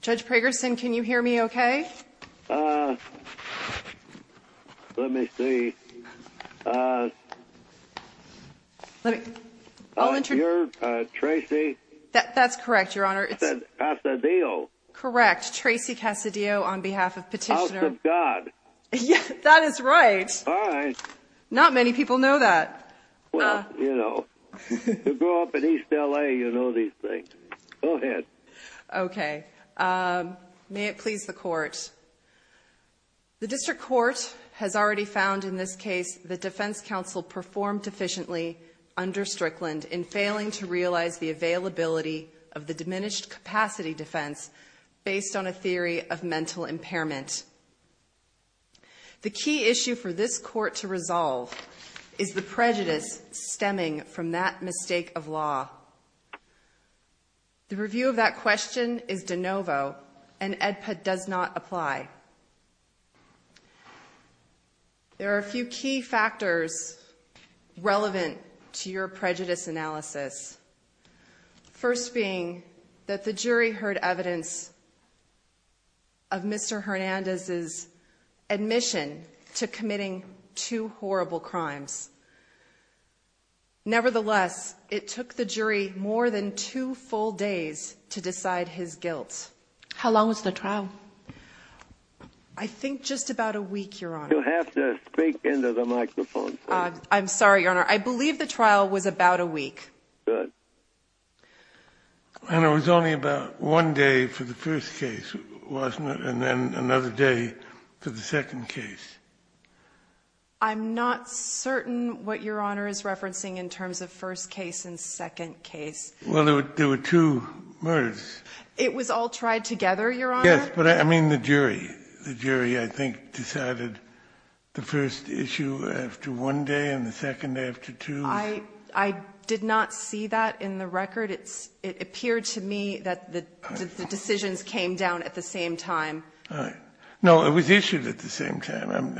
Judge Prager-Sim, can you hear me okay? Uh, let me see. Uh, you're, uh, Tracy? That's correct, Your Honor. I said Tassadio. Correct, Tracy Tassadio on behalf of Petitioner. I said God. That is right. All right. Not many people know that. Well, you know, you grew up in East L.A., you know these things. Go ahead. Okay. May it please the Court. The District Court has already found in this case the defense counsel performed deficiently under Strickland in failing to realize the availability of the diminished capacity defense based on a theory of mental impairment. The key issue for this Court to resolve is the prejudice stemming from that mistake of law. The review of that question is de novo and EDPA does not apply. There are a few key factors relevant to your prejudice analysis. First being that the jury heard evidence of Mr. Hernandez's admission to committing two horrible crimes. Nevertheless, it took the jury more than two full days to decide his guilt. How long was the trial? I think just about a week, Your Honor. You have to speak into the microphone. I'm sorry, Your Honor. I believe the trial was about a week. And it was only about one day for the first case, wasn't it, and then another day for the second case. I'm not certain what Your Honor is referencing in terms of first case and second case. Well, there were two murders. It was all tried together, Your Honor? Yes, but I mean the jury. The jury, I think, decided the first issue after one day and the second after two. I did not see that in the record. It appeared to me that the decisions came down at the same time. No, it was issued at the same time.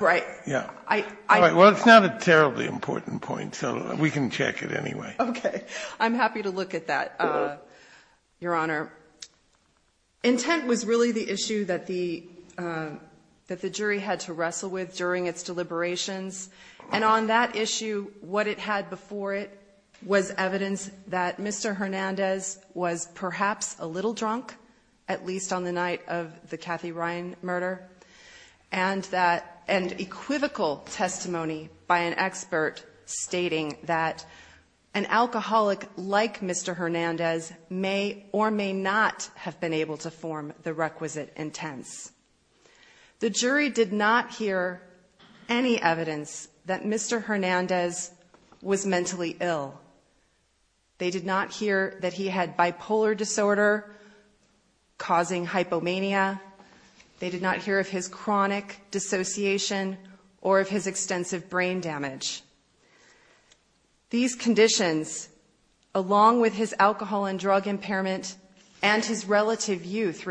Right. Well, it's not a terribly important point, so we can check it anyway. Okay. I'm happy to look at that, Your Honor. Intent was really the issue that the jury had to wrestle with during its deliberations. And on that issue, what it had before it was evidence that Mr. Hernandez was perhaps a little drunk, at least on the night of the Kathy Ryan murder, and that an equivocal testimony by an expert stating that an alcoholic like Mr. Hernandez may or may not have been able to form the requisite intent. The jury did not hear any evidence that Mr. Hernandez was mentally ill. They did not hear that he had bipolar disorder causing hypomania. They did not hear of his chronic dissociation or of his extensive brain damage. These conditions, along with his alcohol and drug impairment and his substance abuse,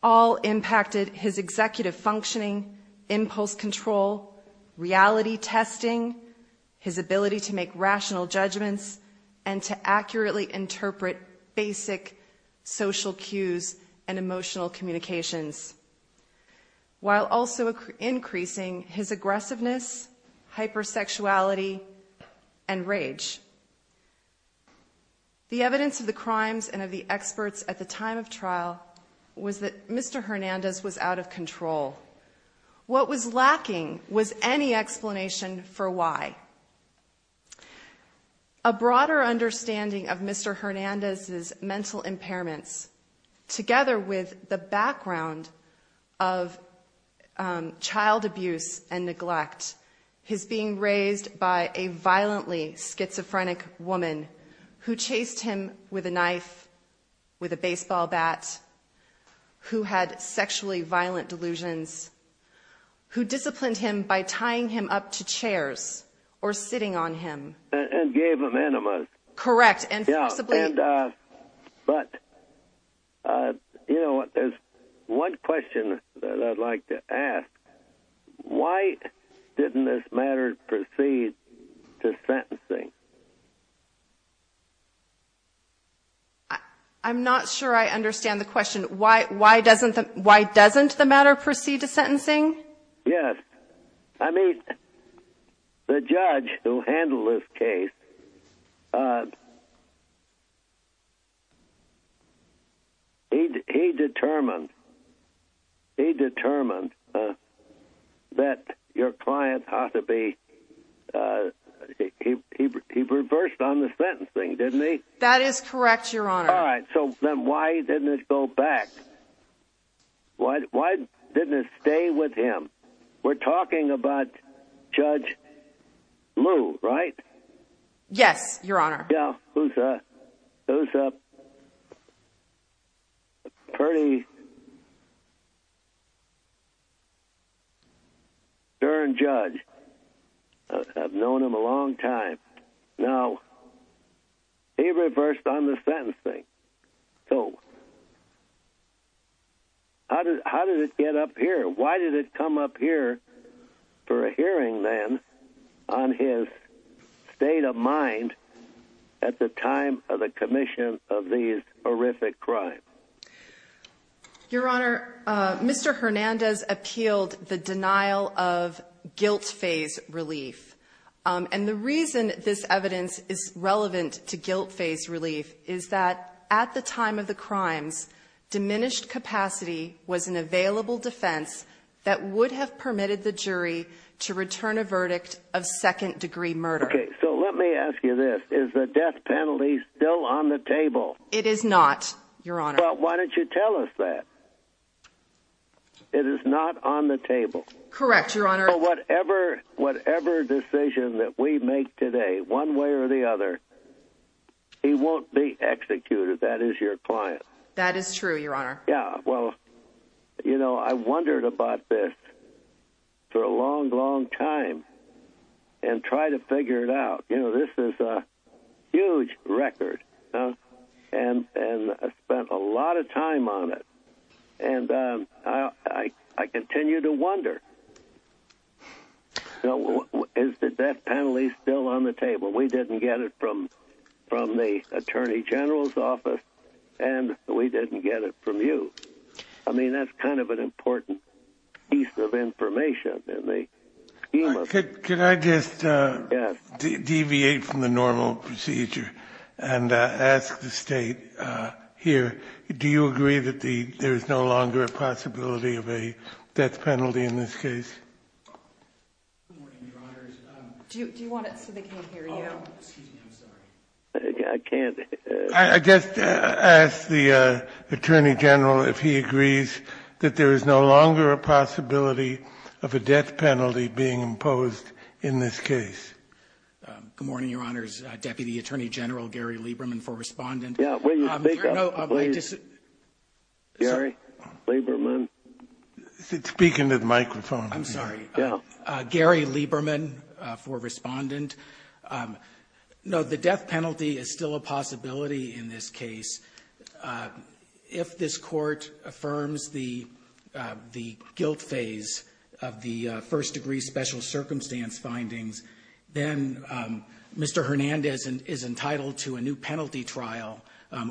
all impacted his executive functioning, impulse control, reality testing, his ability to make rational judgments, and to accurately interpret basic social cues and emotional communications, while also increasing his aggressiveness, hypersexuality, and rage. The evidence of the crimes and of the experts at the time of trial was that Mr. Hernandez was out of control. What was lacking was any explanation for why. A broader understanding of Mr. Hernandez's mental impairments, together with the background of child abuse and neglect, was that he was being raised by a violently schizophrenic woman who chased him with a knife, with a baseball bat, who had sexually violent delusions, who disciplined him by tying him up to chairs or sitting on him. And gave him enemas. Correct. But, you know, there's one question that I'd like to ask. Why didn't this matter proceed to sentencing? I'm not sure I understand the question. Why doesn't the matter proceed to sentencing? Yes. I mean, the judge who handled this case, he determined that your client has to be, he reversed on the sentencing, didn't he? That is correct, Your Honor. All right. So then why didn't it go back? Why didn't it stay with him? We're talking about Judge Lu, right? Yes, Your Honor. Yeah, who's a pretty stern judge. I've known him a long time. Now, he reversed on the sentencing. So how did it get up here? Why did it come up here for a hearing, then, on his state of mind at the time of the commission of these horrific crimes? Your Honor, Mr. Hernandez appealed the denial of guilt-phase relief. And the reason this evidence is relevant to guilt-phase relief is that at the time of the crimes, diminished capacity was an available defense that would have permitted the jury to return a verdict of second-degree murder. Okay. So let me ask you this. Is the death penalty still on the table? It is not, Your Honor. Well, why don't you tell us that? It is not on the table. Correct, Your Honor. Whatever decision that we make today, one way or the other, he won't be executed. That is your client. That is true, Your Honor. Yeah, well, you know, I wondered about this for a long, long time and tried to figure it out. You know, this is a huge record, and I spent a lot of time on it. And I continue to wonder, is the death penalty still on the table? We didn't get it from the Attorney General's office, and we didn't get it from you. I mean, that's kind of an important piece of information. Can I just deviate from the normal procedure and ask the State here, do you agree that there is no longer a possibility of a death penalty in this case? Good morning, Your Honor. Do you want it so they can hear you? I guess I'll ask the Attorney General if he agrees that there is no longer a possibility of a death penalty being imposed in this case. Good morning, Your Honor's Deputy Attorney General, Gary Lieberman, for responding. Yeah, will you speak up, please? Gary Lieberman. Speak into the microphone. I'm sorry. Yeah. Gary Lieberman for responding. No, the death penalty is still a possibility in this case. If this Court affirms the guilt phase of the first-degree special circumstance findings, then Mr. Hernandez is entitled to a new penalty trial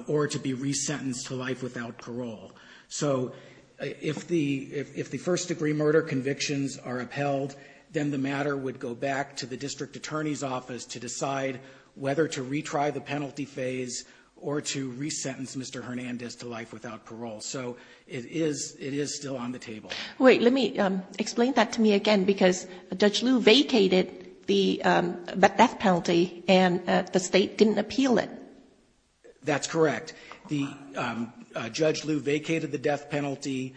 or to be resentenced to life without parole. So if the first-degree murder convictions are upheld, then the matter would go back to the District Attorney's office to decide whether to retry the penalty phase or to resentence Mr. Hernandez to life without parole. So it is still on the table. Wait, let me explain that to me again, because Judge Liu vacated the death penalty and the State didn't appeal it. That's correct. Judge Liu vacated the death penalty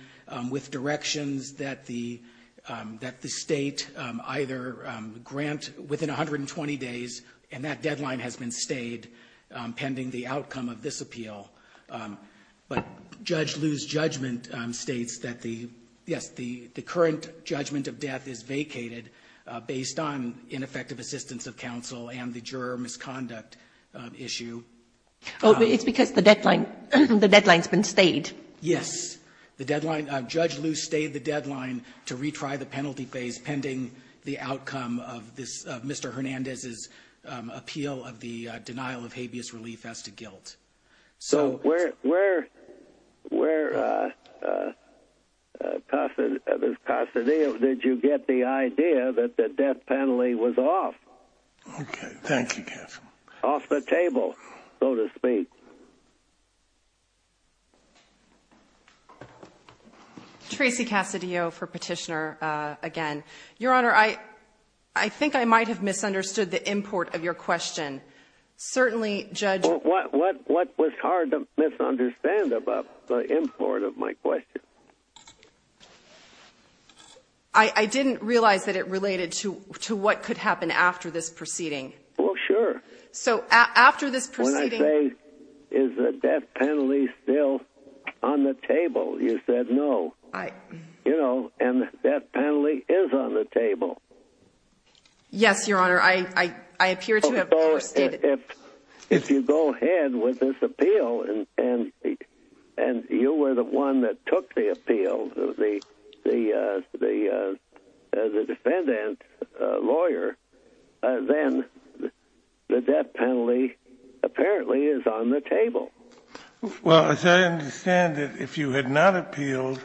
with directions that the State either grant within 120 days, and that deadline has been stayed pending the outcome of this appeal. But Judge Liu's judgment states that, yes, the current judgment of death is vacated based on ineffective assistance of counsel and the juror misconduct issue. It's because the deadline has been stayed. Yes. Judge Liu stayed the deadline to retry the penalty phase pending the outcome of Mr. Hernandez's appeal of the denial of habeas relief as to guilt. So where, Mr. Casadillo, did you get the idea that the death penalty was off? Okay, thank you, Counselor. Off the table, so to speak. Tracy Casadillo for Petitioner again. Your Honor, I think I might have misunderstood the import of your question. What was hard to misunderstand about the import of my question? I didn't realize that it related to what could happen after this proceeding. Oh, sure. So after this proceeding. When I say, is the death penalty still on the table, you said no. You know, and the death penalty is on the table. Yes, Your Honor. If you go ahead with this appeal and you were the one that took the appeal, the defendant, lawyer, then the death penalty apparently is on the table. Well, as I understand it, if you had not appealed,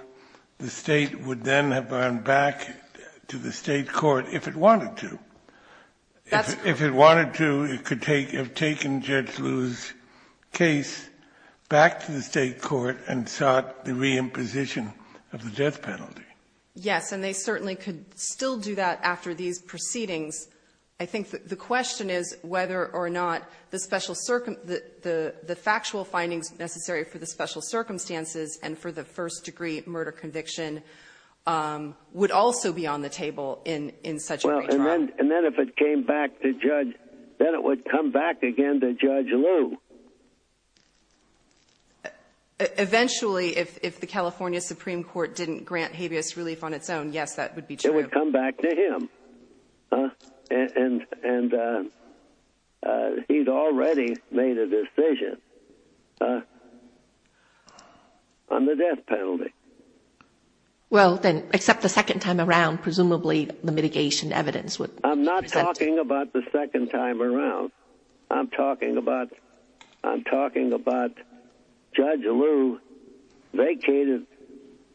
the state would then have gone back to the state court if it wanted to. If it wanted to, it could have taken Judge Liu's case back to the state court and sought the reimposition of the death penalty. Yes, and they certainly could still do that after these proceedings. I think the question is whether or not the factual findings necessary for the special circumstances and for the first-degree murder conviction would also be on the table in such a case. Well, and then if it came back to Judge – then it would come back again to Judge Liu. Eventually, if the California Supreme Court didn't grant habeas relief on its own, yes, that would be true. It would come back to him. And he's already made a decision on the death penalty. Well, then, except the second time around, presumably the mitigation evidence would – I'm not talking about the second time around. I'm talking about Judge Liu vacated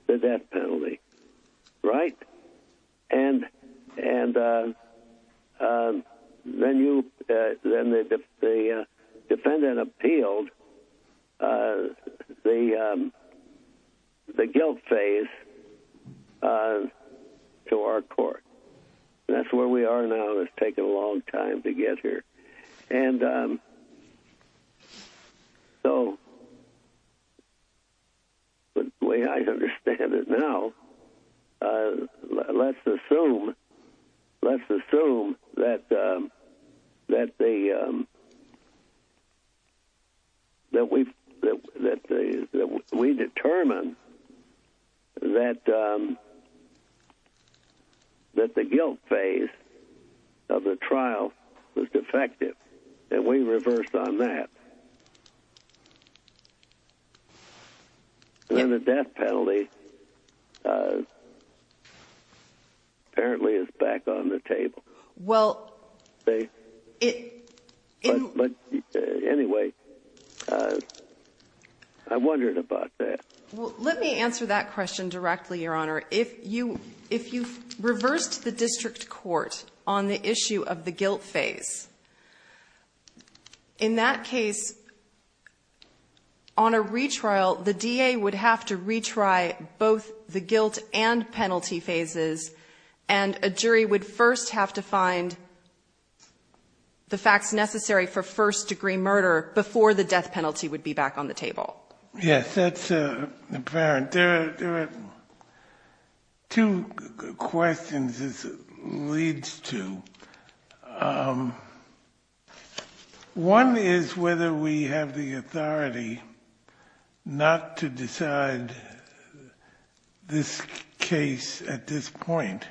the death penalty, right? And then the defendant appealed the guilt phase to our court. That's where we are now. It's taken a long time to get here. And so the way I understand it now, let's assume that we determined that the guilt phase of the trial was defective. And we reversed on that. And then the death penalty apparently is back on the table. Well, it – But anyway, I wondered about that. Well, let me answer that question directly, Your Honor. If you reversed the district court on the issue of the guilt phase, in that case, on a retrial, the DA would have to retry both the guilt and penalty phases. And a jury would first have to find the facts necessary for first-degree murder before the death penalty would be back on the table. Yes, that's apparent. There are two questions this leads to. One is whether we have the authority not to decide this case at this point.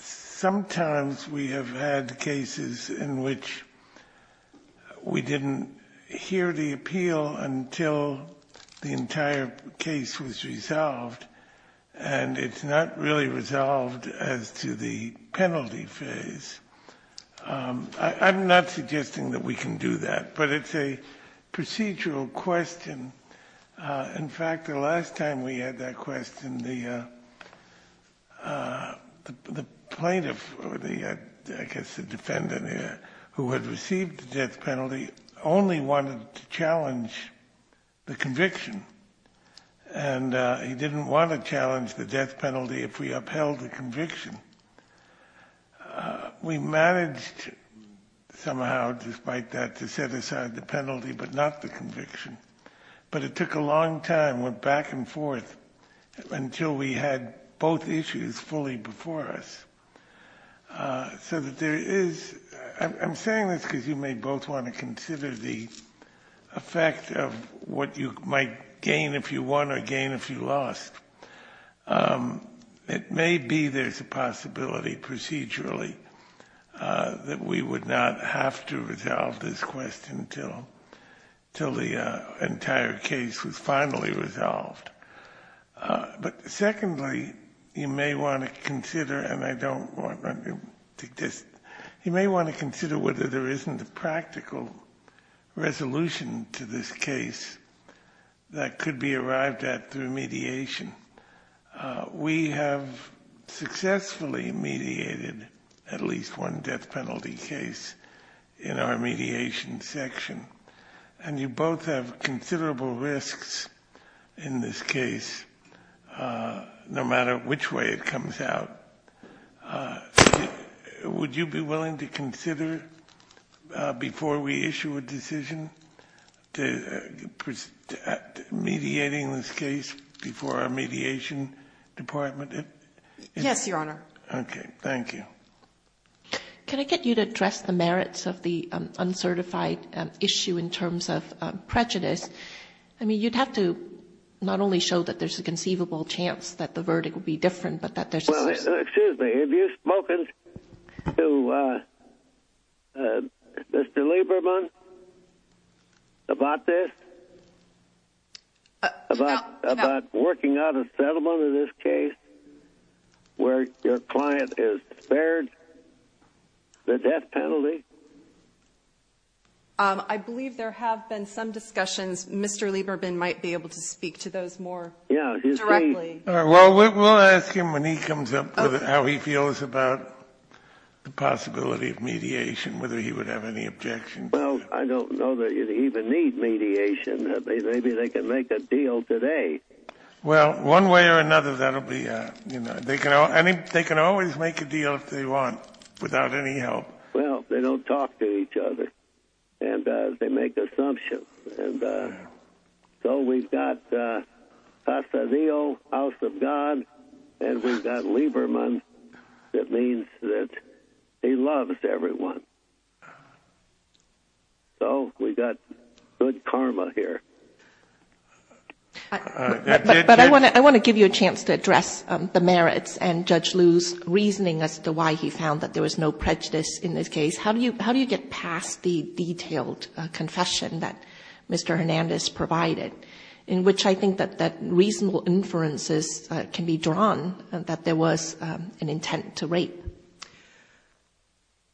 Sometimes we have had cases in which we didn't hear the appeal until the entire case was resolved, and it's not really resolved as to the penalty phase. I'm not suggesting that we can do that, but it's a procedural question. In fact, the last time we had that question, the plaintiff, or I guess the defendant, who had received the death penalty, only wanted to challenge the conviction. And he didn't want to challenge the death penalty if we upheld the conviction. We managed somehow, despite that, to set aside the penalty but not the conviction. But it took a long time, went back and forth, until we had both issues fully before us. So there is – I'm saying this because you may both want to consider the effect of what you might gain if you won or gain if you lost. It may be there's a possibility procedurally that we would not have to resolve this question until the entire case was finally resolved. But secondly, you may want to consider – and I don't want – you may want to consider whether there isn't a practical resolution to this case that could be arrived at through mediation. We have successfully mediated at least one death penalty case in our mediation section. And you both have considerable risks in this case, no matter which way it comes out. Would you be willing to consider, before we issue a decision, mediating this case before our mediation department? Yes, Your Honor. Okay. Thank you. Can I get you to address the merits of the uncertified issue in terms of prejudice? I mean, you'd have to not only show that there's a conceivable chance that the verdict will be different, but that there's – Excuse me. Have you spoken to Mr. Lieberman about this, about working out a settlement in this case where your client is spared the death penalty? I believe there have been some discussions. Mr. Lieberman might be able to speak to those more directly. Well, we'll ask him when he comes up with how he feels about the possibility of mediation, whether he would have any objections. Well, I don't know that you'd even need mediation. Maybe they can make a deal today. Well, one way or another, that'll be – they can always make a deal if they want, without any help. Well, they don't talk to each other, and they make assumptions. And so we've got Pasadena, house of God, and we've got Lieberman that means that he loves everyone. So we've got good karma here. But I want to give you a chance to address the merits and Judge Liu's reasoning as to why he found that there was no prejudice in this case. How do you get past the detailed confession that Mr. Hernandez provided, in which I think that reasonable inferences can be drawn that there was an intent to rape?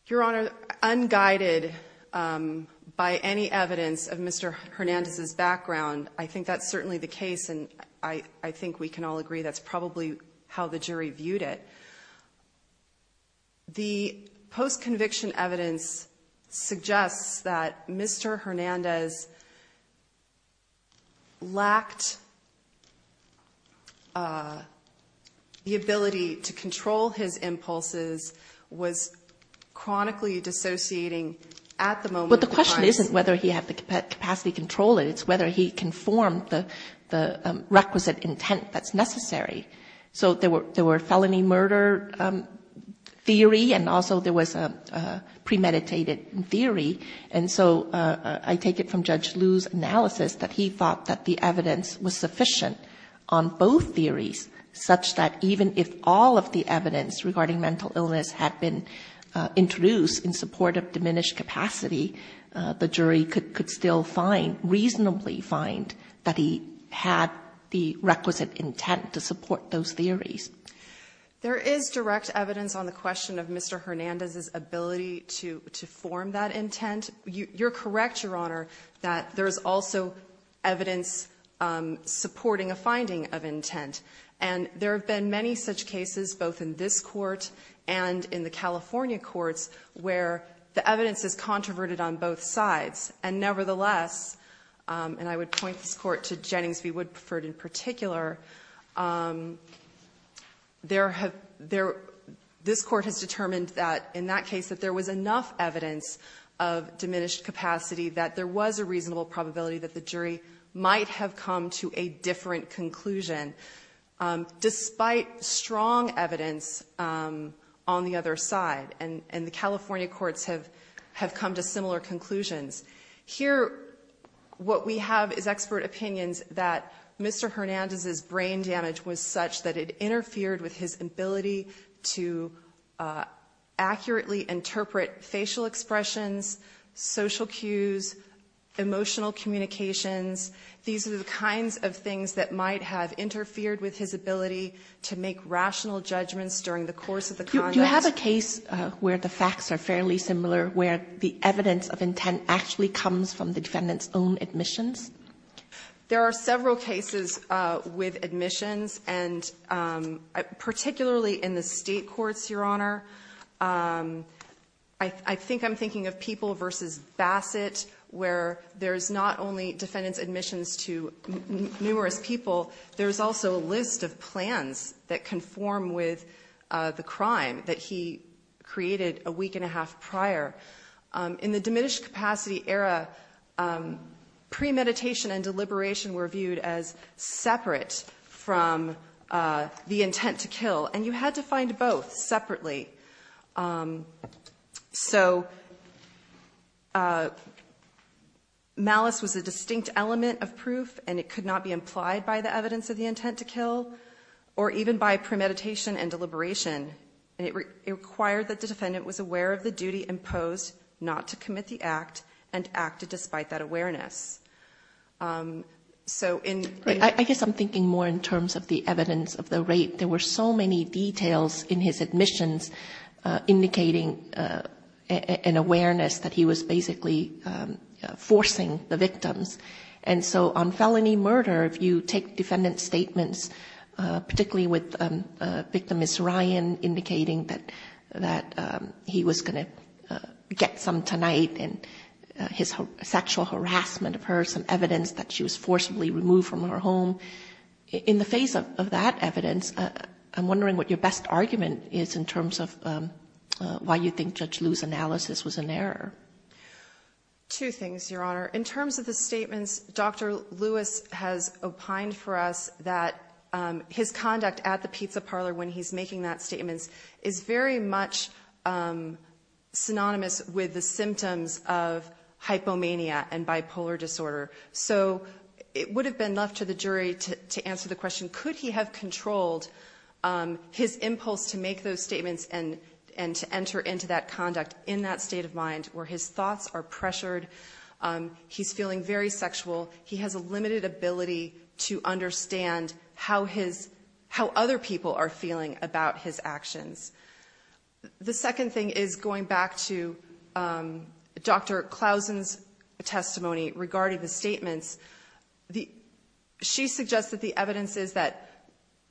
Your Honor, unguided by any evidence of Mr. Hernandez's background, I think that's certainly the case, and I think we can all agree that's probably how the jury viewed it. The post-conviction evidence suggests that Mr. Hernandez lacked the ability to control his impulses, was chronically dissociating at the moment in time. But the question isn't whether he had the capacity to control it. It's whether he conformed the requisite intent that's necessary. So there were felony murder theory, and also there was a premeditated theory. And so I take it from Judge Liu's analysis that he thought that the evidence was sufficient on both theories, such that even if all of the evidence regarding mental illness had been introduced in support of diminished capacity, the jury could still reasonably find that he had the requisite intent to support those theories. There is direct evidence on the question of Mr. Hernandez's ability to form that intent. You're correct, Your Honor, that there's also evidence supporting a finding of intent. And there have been many such cases, both in this court and in the California courts, where the evidence is controverted on both sides. And nevertheless, and I would point this court to Jennings v. Woodford in particular, this court has determined that in that case that there was enough evidence of diminished capacity that there was a reasonable probability that the jury might have come to a different conclusion. Despite strong evidence on the other side, and the California courts have come to similar conclusions. Here, what we have is expert opinions that Mr. Hernandez's brain damage was such that it interfered with his ability to accurately interpret facial expressions, social cues, emotional communications. These are the kinds of things that might have interfered with his ability to make rational judgments during the course of the conduct. Do you have a case where the facts are fairly similar, where the evidence of intent actually comes from the defendant's own admissions? There are several cases with admissions, and particularly in the state courts, Your Honor. I think I'm thinking of People v. Bassett, where there's not only defendant's admissions to numerous people, there's also a list of plans that conform with the crime that he created a week and a half prior. In the diminished capacity era, premeditation and deliberation were viewed as separate from the intent to kill, and you had to find both separately. Malice was a distinct element of proof, and it could not be implied by the evidence of the intent to kill, or even by premeditation and deliberation. It required that the defendant was aware of the duty imposed not to commit the act, and acted despite that awareness. I guess I'm thinking more in terms of the evidence of the rape. There were so many details in his admissions indicating an awareness that he was basically forcing the victims. On felony murder, if you take defendant's statements, particularly with victim Miss Ryan indicating that he was going to get some tonight, and his sexual harassment of her, some evidence that she was forcibly removed from her home. In the face of that evidence, I'm wondering what your best argument is in terms of why you think Judge Liu's analysis was an error. Two things, Your Honor. In terms of the statements, Dr. Lewis has opined for us that his conduct at the pizza parlor when he's making that statement is very much synonymous with the symptoms of hypomania and bipolar disorder. It would have been enough to the jury to answer the question, could he have controlled his impulse to make those statements and to enter into that conduct in that state of mind where his thoughts are pressured, he's feeling very sexual, he has a limited ability to understand how other people are feeling about his actions. The second thing is going back to Dr. Clausen's testimony regarding the statements. She suggested the evidence is that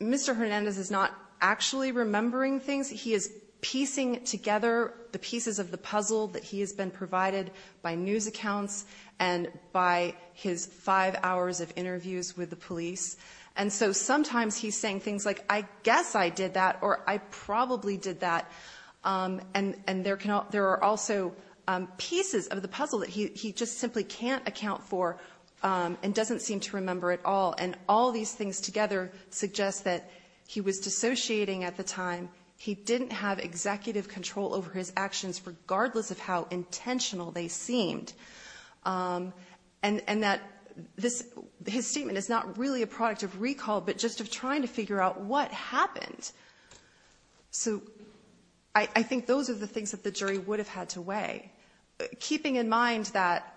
Mr. Hernandez is not actually remembering things. Sometimes he is piecing together the pieces of the puzzle that he has been provided by news accounts and by his five hours of interviews with the police. And so sometimes he's saying things like, I guess I did that, or I probably did that. And there are also pieces of the puzzle that he just simply can't account for and doesn't seem to remember at all. And all these things together suggest that he was dissociating at the time. He didn't have executive control over his actions regardless of how intentional they seemed. And that his statement is not really a product of recall but just of trying to figure out what happened. So I think those are the things that the jury would have had to weigh. Keeping in mind that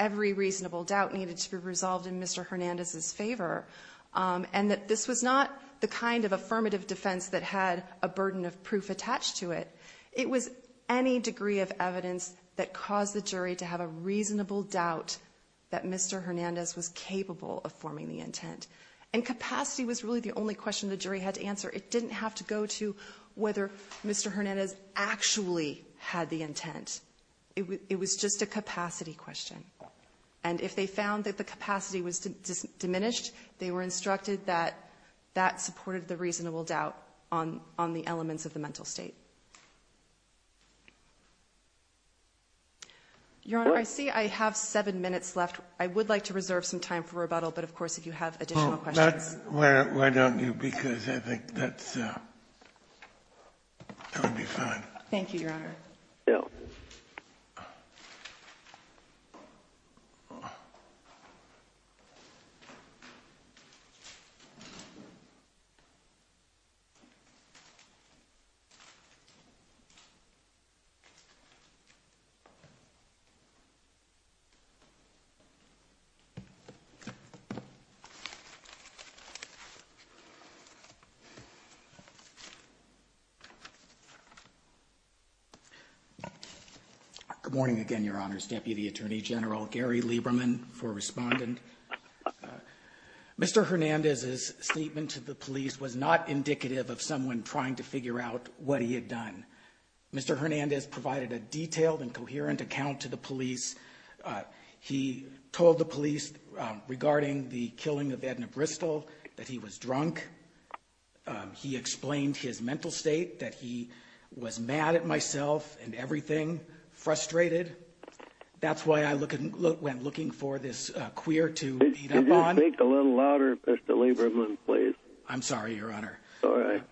every reasonable doubt needed to be resolved in Mr. Hernandez's favor and that this was not the kind of affirmative defense that had a burden of proof attached to it. It was any degree of evidence that caused the jury to have a reasonable doubt that Mr. Hernandez was capable of forming the intent. And capacity was really the only question the jury had to answer. It didn't have to go to whether Mr. Hernandez actually had the intent. It was just a capacity question. And if they found that the capacity was diminished, they were instructed that that supported the reasonable doubt on the elements of the mental state. Your Honor, I see I have seven minutes left. I would like to reserve some time for rebuttal, but of course, if you have additional questions. Why don't you, because I think that's going to be fine. Thank you, Your Honor. Good morning again, Your Honor's Deputy Attorney General, Gary Lieberman, for responding. Mr. Hernandez's statement to the police was not indicative of someone trying to figure out what he had done. Mr. Hernandez provided a detailed and coherent account to the police. He told the police regarding the killing of Edna Bristol that he was drunk. He explained his mental state, that he was mad at myself and everything, frustrated. That's why I went looking for this queer to even bond. Could you speak a little louder, Mr. Lieberman, please? All right.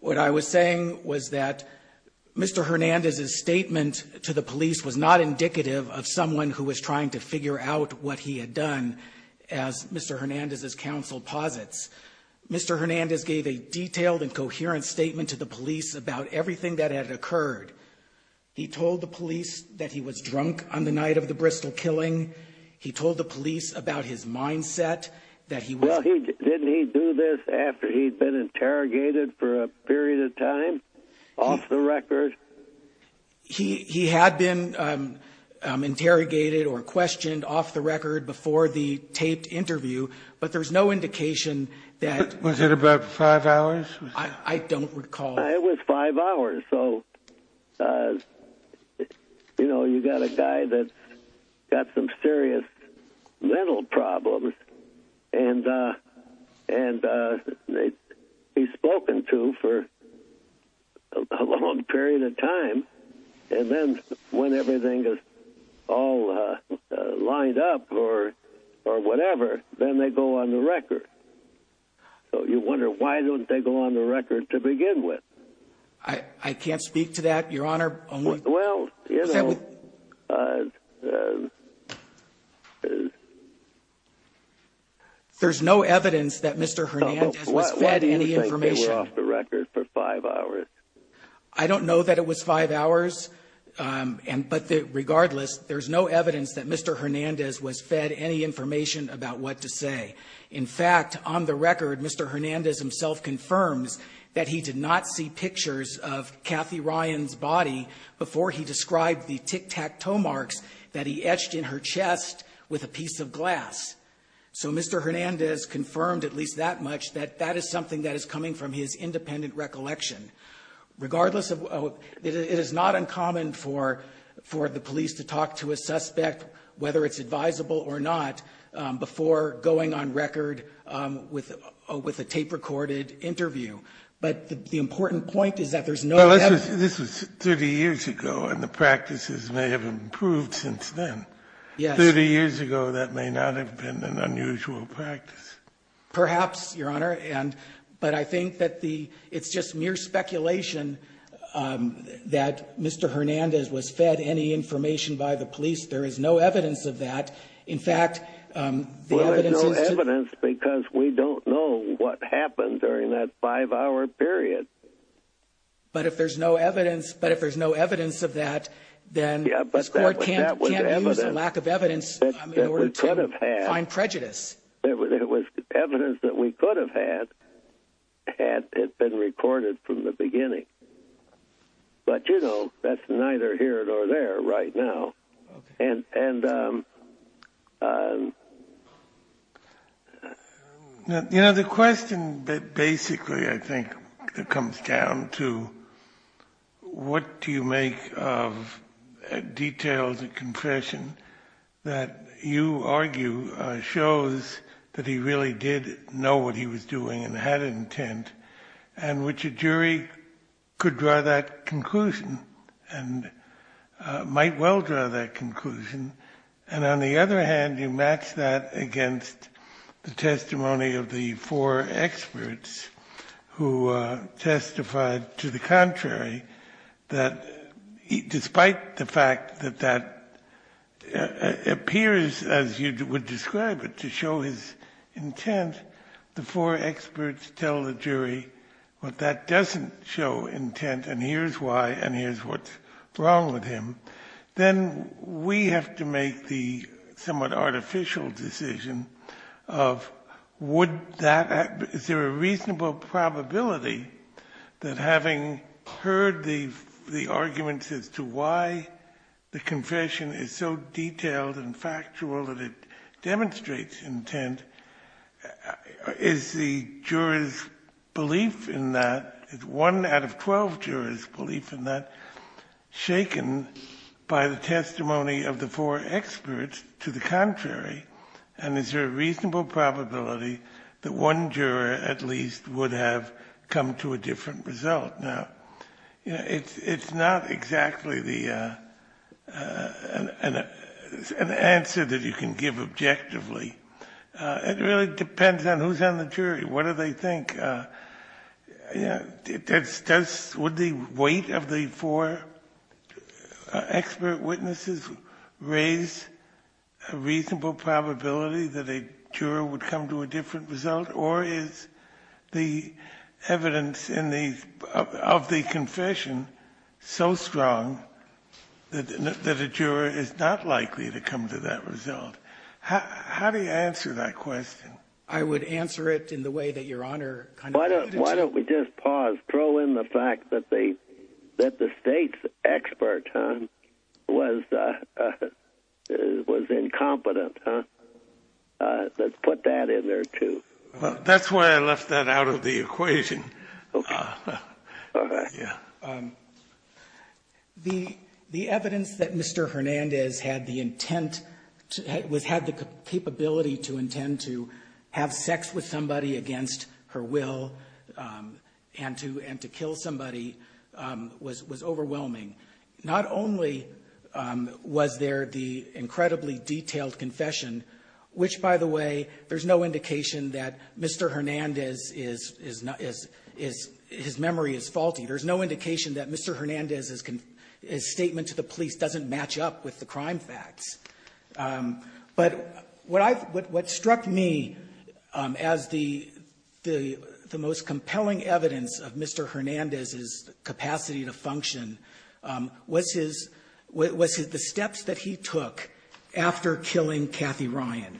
What I was saying was that Mr. Hernandez's statement to the police was not indicative of someone who was trying to figure out what he had done, as Mr. Hernandez's counsel posits. Mr. Hernandez gave a detailed and coherent statement to the police about everything that had occurred. He told the police that he was drunk on the night of the Bristol killing. He told the police about his mindset. Well, didn't he do this after he'd been interrogated for a period of time, off the record? He had been interrogated or questioned off the record before the taped interview, but there's no indication that… Was it about five hours? I don't recall. It was five hours. So, you know, you've got a guy that's got some serious mental problems, and he's spoken to for a long period of time. And then when everything is all lined up or whatever, then they go on the record. So you wonder, why don't they go on the record to begin with? I can't speak to that, Your Honor. Well, you know… There's no evidence that Mr. Hernandez was fed any information. Why do you think they were off the record for five hours? I don't know that it was five hours, but regardless, there's no evidence that Mr. Hernandez was fed any information about what to say. In fact, on the record, Mr. Hernandez himself confirmed that he did not see pictures of Kathy Ryan's body before he described the tic-tac-toe marks that he etched in her chest with a piece of glass. So Mr. Hernandez confirmed at least that much, that that is something that is coming from his independent recollection. Regardless, it is not uncommon for the police to talk to a suspect, whether it's advisable or not, before going on record with a tape-recorded interview. But the important point is that there's no evidence… This is 30 years ago, and the practices may have improved since then. 30 years ago, that may not have been an unusual practice. Perhaps, Your Honor, but I think that it's just mere speculation that Mr. Hernandez was fed any information by the police. There is no evidence of that. Well, there's no evidence because we don't know what happened during that five-hour period. But if there's no evidence of that, then the court can't use the lack of evidence in order to find prejudice. There was evidence that we could have had had it been recorded from the beginning. But, you know, that's neither here nor there right now. And, you know, the question that basically, I think, comes down to what do you make of details of confession that you argue shows that he really did know what he was doing and had an intent, and which a jury could draw that conclusion and might well draw that conclusion. And on the other hand, you match that against the testimony of the four experts who testified to the contrary, that despite the fact that that appears, as you would describe it, to show his intent, the four experts tell the jury that that doesn't show intent and here's why and here's what's wrong with him. Then we have to make the somewhat artificial decision of would that, is there a reasonable probability that having heard the arguments as to why the confession is so detailed and factual that it demonstrates intent, is the jurors belief in that, is one out of twelve jurors belief in that, shaken by the testimony of the four experts to the contrary? And is there a reasonable probability that one juror at least would have come to a different result? It's not exactly an answer that you can give objectively. It really depends on who's on the jury, what do they think. Would the weight of the four expert witnesses raise a reasonable probability that a juror would come to a different result? Or is the evidence of the confession so strong that a juror is not likely to come to that result? How do you answer that question? I would answer it in the way that Your Honor kind of put it. Why don't we just pause, throw in the fact that the state's expert was incompetent. Let's put that in there too. That's why I left that out of the equation. The evidence that Mr. Hernandez had the intent, had the capability to intend to have sex with somebody against her will and to kill somebody was overwhelming. Not only was there the incredibly detailed confession, which, by the way, there's no indication that Mr. Hernandez's memory is faulty. There's no indication that Mr. Hernandez's statement to the police doesn't match up with the crime facts. But what struck me as the most compelling evidence of Mr. Hernandez's capacity to function was the steps that he took after killing Kathy Ryan.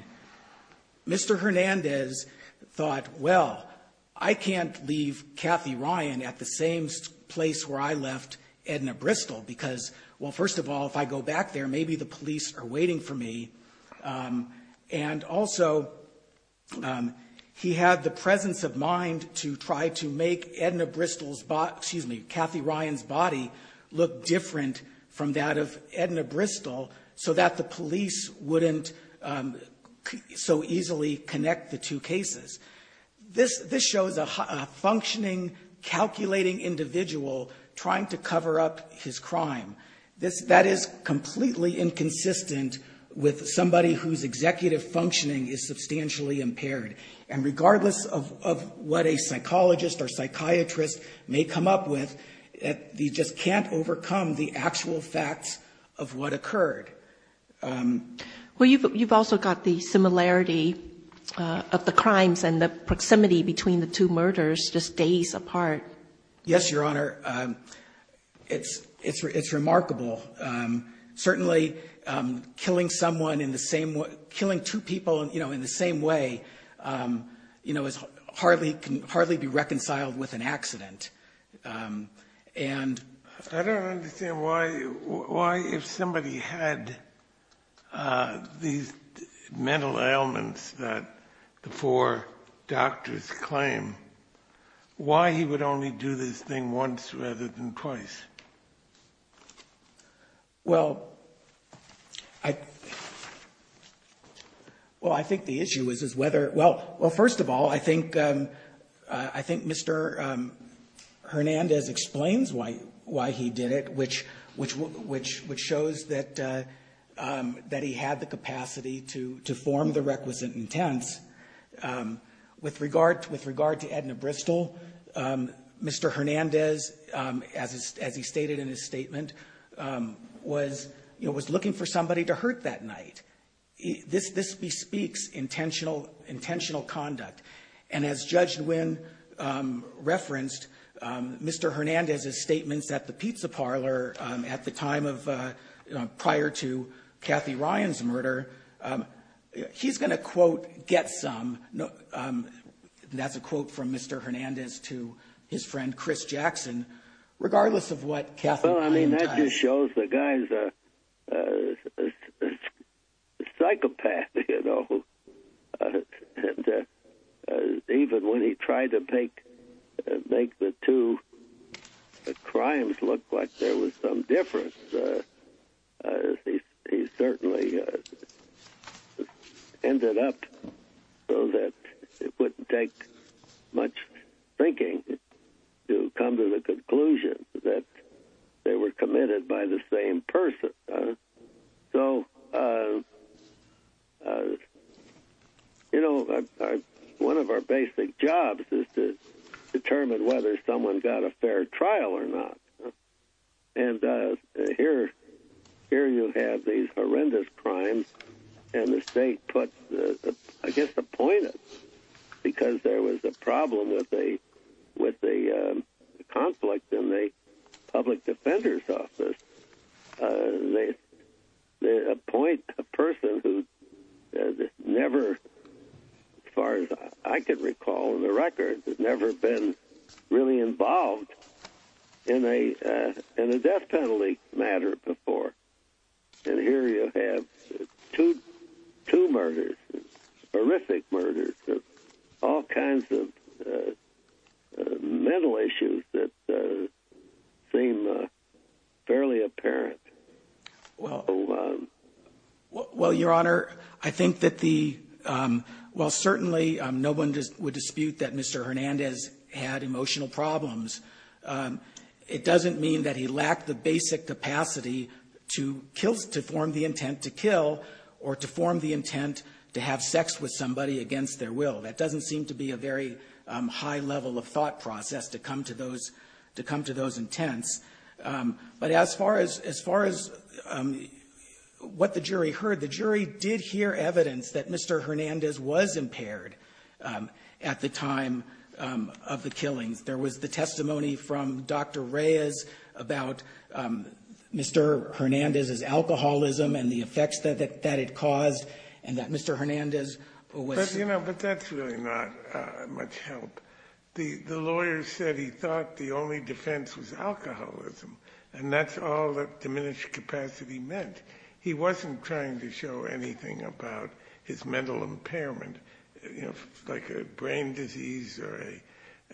Mr. Hernandez thought, well, I can't leave Kathy Ryan at the same place where I left Edna Bristol because, well, first of all, if I go back there, maybe the police are waiting for me. And also, he had the presence of mind to try to make Kathy Ryan's body look different from that of Edna Bristol so that the police wouldn't so easily connect the two cases. This shows a functioning, calculating individual trying to cover up his crime. That is completely inconsistent with somebody whose executive functioning is substantially impaired. And regardless of what a psychologist or psychiatrist may come up with, you just can't overcome the actual facts of what occurred. Well, you've also got the similarity of the crimes and the proximity between the two murders just days apart. Yes, Your Honor. It's remarkable. Certainly, killing two people in the same way can hardly be reconciled with an accident. I don't understand why, if somebody had these mental ailments that the four doctors claim, why he would only do this thing once rather than twice? Well, I think the issue is whether, well, first of all, I think Mr. Hernandez explains why he did it, which shows that he had the capacity to form the requisite intent. With regard to Edna Bristol, Mr. Hernandez, as he stated in his statement, was looking for somebody to hurt that night. This bespeaks intentional conduct. And as Judge Nguyen referenced, Mr. Hernandez's statements at the pizza parlor prior to Kathy Ryan's murder, he's going to, quote, get some. That's a quote from Mr. Hernandez to his friend Chris Jackson. Regardless of what Kathy Ryan does. Well, I mean, that just shows the guy's a psychopath, you know. Even when he tried to make the two crimes look like there was some difference, he certainly ended up so that it wouldn't take much thinking to come to the conclusion that they were committed by the same person. So, you know, one of our basic jobs is to determine whether someone got a fair trial or not. And here you have these horrendous crimes, and the state put, I guess, appointments, because there was a problem with the conflict in the public defender's office. They appoint a person who never, as far as I can recall on the record, has never been really involved in a death penalty matter before. And here you have two murders, horrific murders, all kinds of mental issues that seem fairly apparent. Well, Your Honor, I think that while certainly no one would dispute that Mr. Hernandez had emotional problems, it doesn't mean that he lacked the basic capacity to form the intent to kill or to form the intent to have sex with somebody against their will. That doesn't seem to be a very high level of thought process to come to those intents. But as far as what the jury heard, the jury did hear evidence that Mr. Hernandez was impaired at the time of the killing. There was the testimony from Dr. Reyes about Mr. Hernandez's alcoholism and the effects that it caused, and that Mr. Hernandez was— You know, but that's really not much help. The lawyer said he thought the only defense was alcoholism, and that's all that diminished capacity meant. He wasn't trying to show anything about his mental impairment, like a brain disease or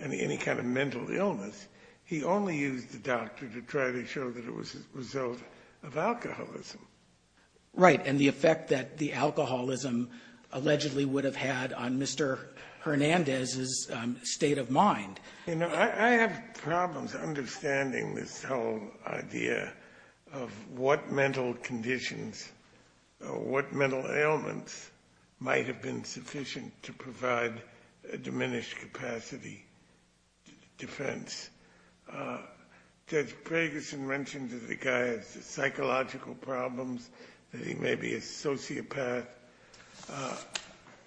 any kind of mental illness. He only used the doctor to try to show that it was a result of alcoholism. Right, and the effect that the alcoholism allegedly would have had on Mr. Hernandez's state of mind. You know, I have problems understanding this whole idea of what mental conditions, what mental ailments might have been sufficient to provide a diminished capacity defense. Judge Gregersen mentioned that the guy has psychological problems, that he may be a sociopath.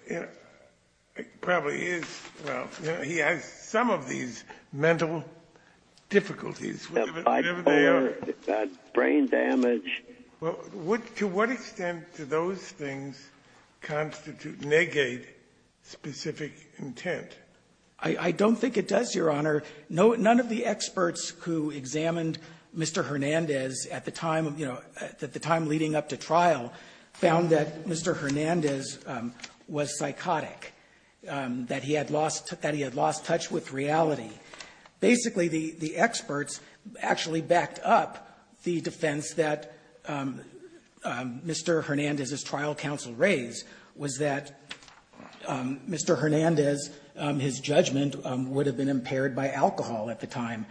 He probably is. He has some of these mental difficulties, whatever they are. Brain damage. To what extent do those things constitute, negate specific intent? None of the experts who examined Mr. Hernandez at the time leading up to trial found that Mr. Hernandez was psychotic, that he had lost touch with reality. Basically, the experts actually backed up the defense that Mr. Hernandez's trial counsel raised, was that Mr. Hernandez, his judgment would have been impaired by alcohol at the time.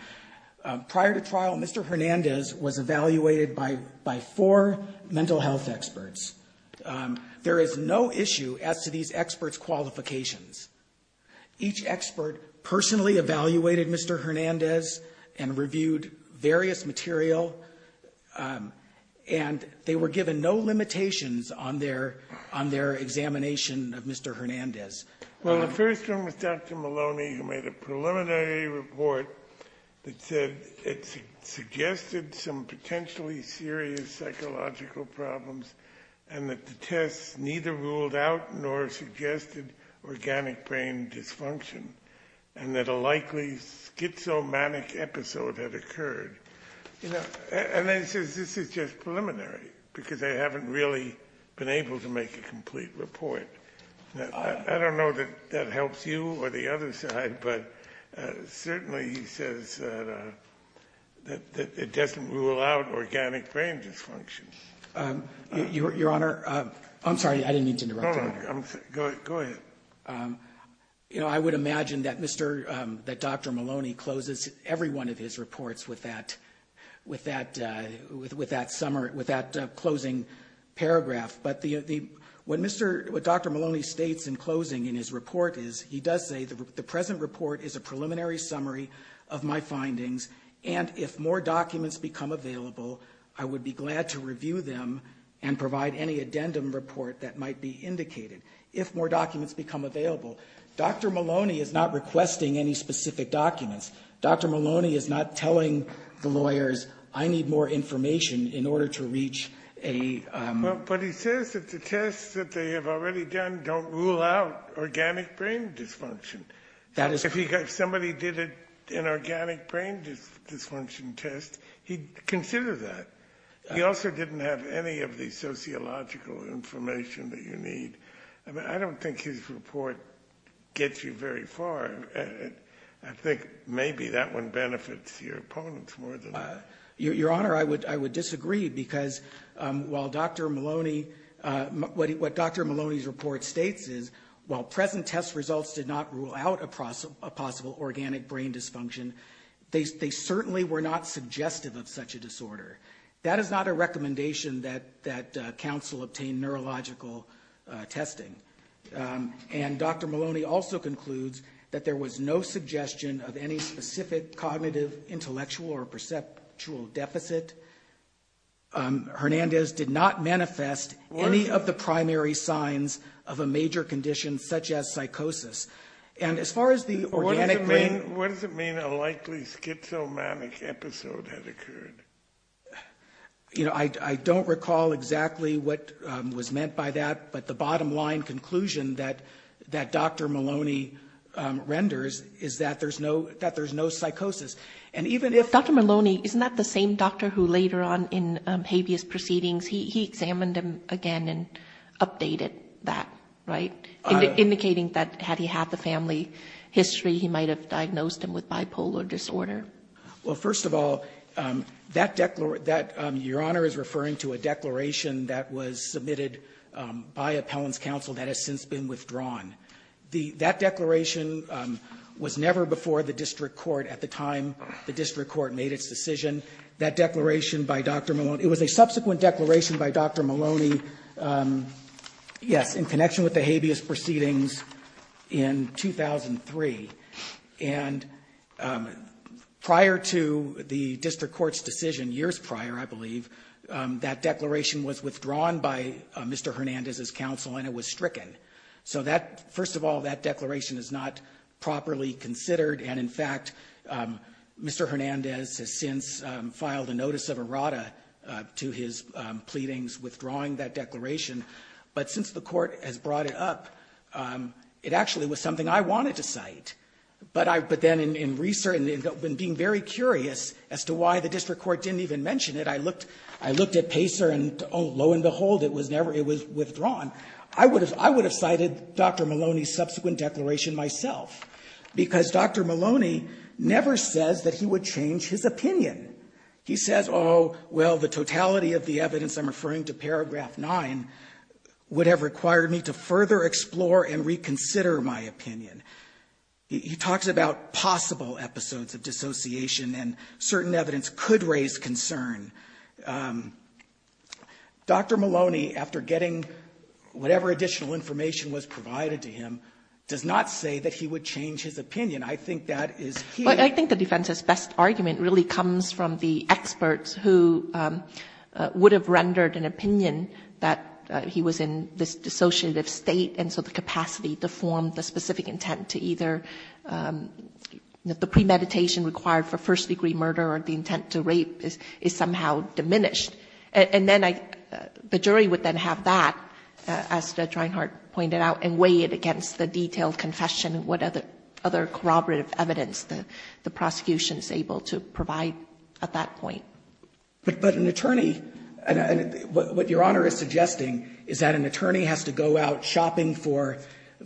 Prior to trial, Mr. Hernandez was evaluated by four mental health experts. There is no issue as to these experts' qualifications. Each expert personally evaluated Mr. Hernandez and reviewed various material, and they were given no limitations on their examination of Mr. Hernandez. Well, the first one was Dr. Maloney, who made a preliminary report that suggested some potentially serious psychological problems, and that the test neither ruled out nor suggested organic brain dysfunction, and that a likely schizomanic episode had occurred. And then he says this is just preliminary because they haven't really been able to make a complete report. I don't know that that helps you or the other side, but certainly he says that it doesn't rule out organic brain dysfunction. Your Honor, I'm sorry, I didn't mean to interrupt. Go ahead. I would imagine that Dr. Maloney closes every one of his reports with that closing paragraph. But what Dr. Maloney states in closing in his report is he does say the present report is a preliminary summary of my findings, and if more documents become available, I would be glad to review them and provide any addendum report that might be indicated. If more documents become available. Dr. Maloney is not requesting any specific documents. Dr. Maloney is not telling the lawyers, I need more information in order to reach a... But he says that the tests that they have already done don't rule out organic brain dysfunction. That is correct. If somebody did an organic brain dysfunction test, he'd consider that. He also didn't have any of the sociological information that you need. I don't think his report gets you very far. I think maybe that one benefits your opponents more than that. Your Honor, I would disagree because while Dr. Maloney, what Dr. Maloney's report states is, while present test results did not rule out a possible organic brain dysfunction, they certainly were not suggestive of such a disorder. That is not a recommendation that counsel obtain neurological testing. And Dr. Maloney also concludes that there was no suggestion of any specific cognitive, intellectual, or perceptual deficit. Hernandez did not manifest any of the primary signs of a major condition such as psychosis. What does it mean a likely schizomanic episode has occurred? I don't recall exactly what was meant by that, but the bottom line conclusion that Dr. Maloney renders is that there's no psychosis. Dr. Maloney, isn't that the same doctor who later on in habeas proceedings, he examined him again and updated that, right? Indicating that had he had the family history, he might have diagnosed him with bipolar disorder. Well, first of all, your Honor is referring to a declaration that was submitted by appellant's counsel that has since been withdrawn. That declaration was never before the district court at the time the district court made its decision. It was a subsequent declaration by Dr. Maloney, yes, in connection with the habeas proceedings in 2003. And prior to the district court's decision, years prior, I believe, that declaration was withdrawn by Mr. Hernandez's counsel and it was stricken. So first of all, that declaration is not properly considered. And in fact, Mr. Hernandez has since filed a notice of errata to his pleadings withdrawing that declaration. But since the court has brought it up, it actually was something I wanted to cite. But then in being very curious as to why the district court didn't even mention it, I looked at Pacer and lo and behold, it was withdrawn. I would have cited Dr. Maloney's subsequent declaration myself because Dr. Maloney never says that he would change his opinion. He says, oh, well, the totality of the evidence, I'm referring to paragraph 9, would have required me to further explore and reconsider my opinion. He talks about possible episodes of dissociation and certain evidence could raise concern. Dr. Maloney, after getting whatever additional information was provided to him, does not say that he would change his opinion. I think that is huge. But I think the defendant's best argument really comes from the experts who would have rendered an opinion that he was in this dissociative state and so the capacity to form the specific intent to either the premeditation required for first-degree murder or the intent to rape is somehow diminished. And then the jury would then have that, as Judge Reinhart pointed out, and weigh it against the detailed confession, what other corroborative evidence the prosecution is able to provide at that point. But an attorney, what Your Honor is suggesting, is that an attorney has to go out shopping for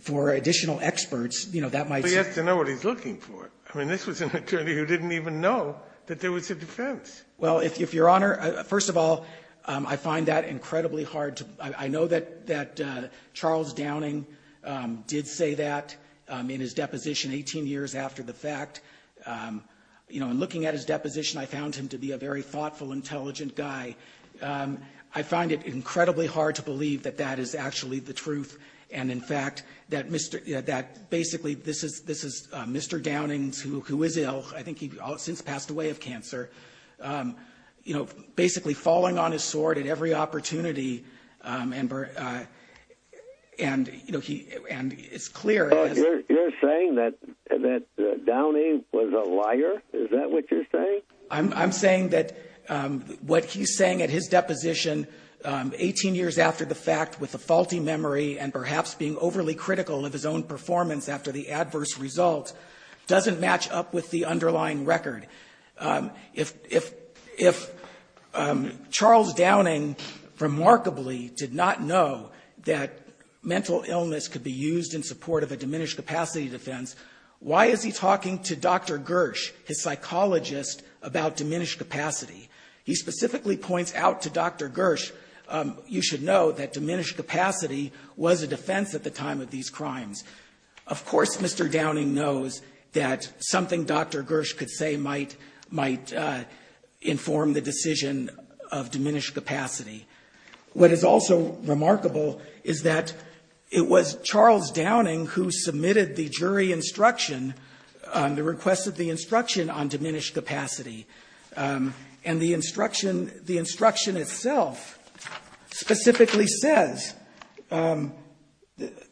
additional experts. He has to know what he's looking for. I mean, this was an attorney who didn't even know that there was a defense. Well, Your Honor, first of all, I find that incredibly hard. I know that Charles Downing did say that in his deposition 18 years after the fact. You know, in looking at his deposition, I found him to be a very thoughtful, intelligent guy. I find it incredibly hard to believe that that is actually the truth and, in fact, that basically this is Mr. Downing, who is ill. I think he's since passed away of cancer. You know, basically falling on his sword at every opportunity and it's clear. You're saying that Downing was a liar? Is that what you're saying? I'm saying that what he's saying in his deposition 18 years after the fact with a faulty memory and perhaps being overly critical of his own performance after the adverse results doesn't match up with the underlying record. If Charles Downing remarkably did not know that mental illness could be used in support of a diminished capacity defense, why is he talking to Dr. Gersh, his psychologist, about diminished capacity? He specifically points out to Dr. Gersh, you should know, that diminished capacity was a defense at the time of these crimes. Of course Mr. Downing knows that something Dr. Gersh could say might inform the decision of diminished capacity. What is also remarkable is that it was Charles Downing who submitted the jury instruction, the request of the instruction on diminished capacity, and the instruction itself specifically says,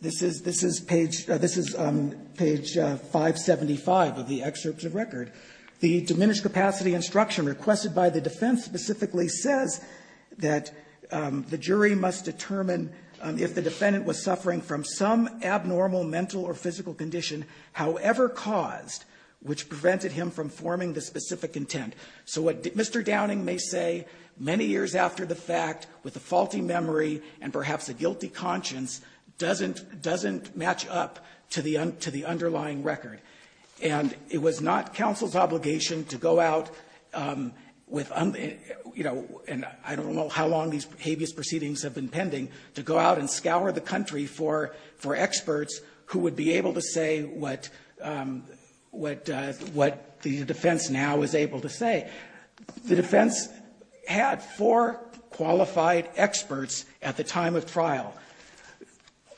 this is page 575 of the excerpt of the record, the diminished capacity instruction requested by the defense specifically says that the jury must determine if the defendant was suffering from some abnormal mental or physical condition, however caused, which prevented him from forming the specific intent. So what Mr. Downing may say many years after the fact with a faulty memory and perhaps a guilty conscience doesn't match up to the underlying record. It was not counsel's obligation to go out, and I don't know how long these habeas proceedings have been pending, to go out and scour the country for experts who would be able to say what the defense now is able to say. The defense had four qualified experts at the time of trial.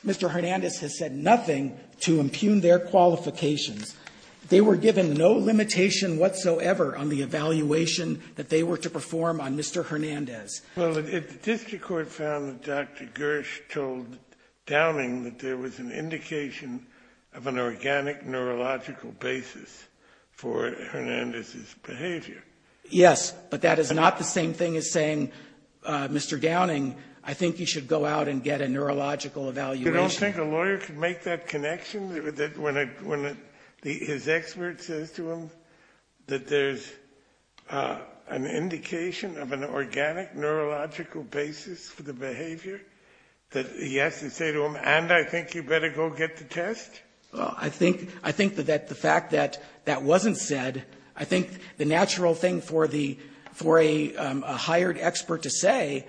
Mr. Hernandez has said nothing to impugn their qualifications. They were given no limitation whatsoever on the evaluation that they were to perform on Mr. Hernandez. Well, if the district court found that Dr. Gersh told Downing that there was an indication of an organic neurological basis for Hernandez's behavior. Yes, but that is not the same thing as saying, Mr. Downing, I think you should go out and get a neurological evaluation. You don't think a lawyer could make that connection when his expert says to him that there's an indication of an organic neurological basis for the behavior, that he has to say to him, and I think you better go get the test? Well, I think that the fact that that wasn't said, I think the natural thing for a hired expert to say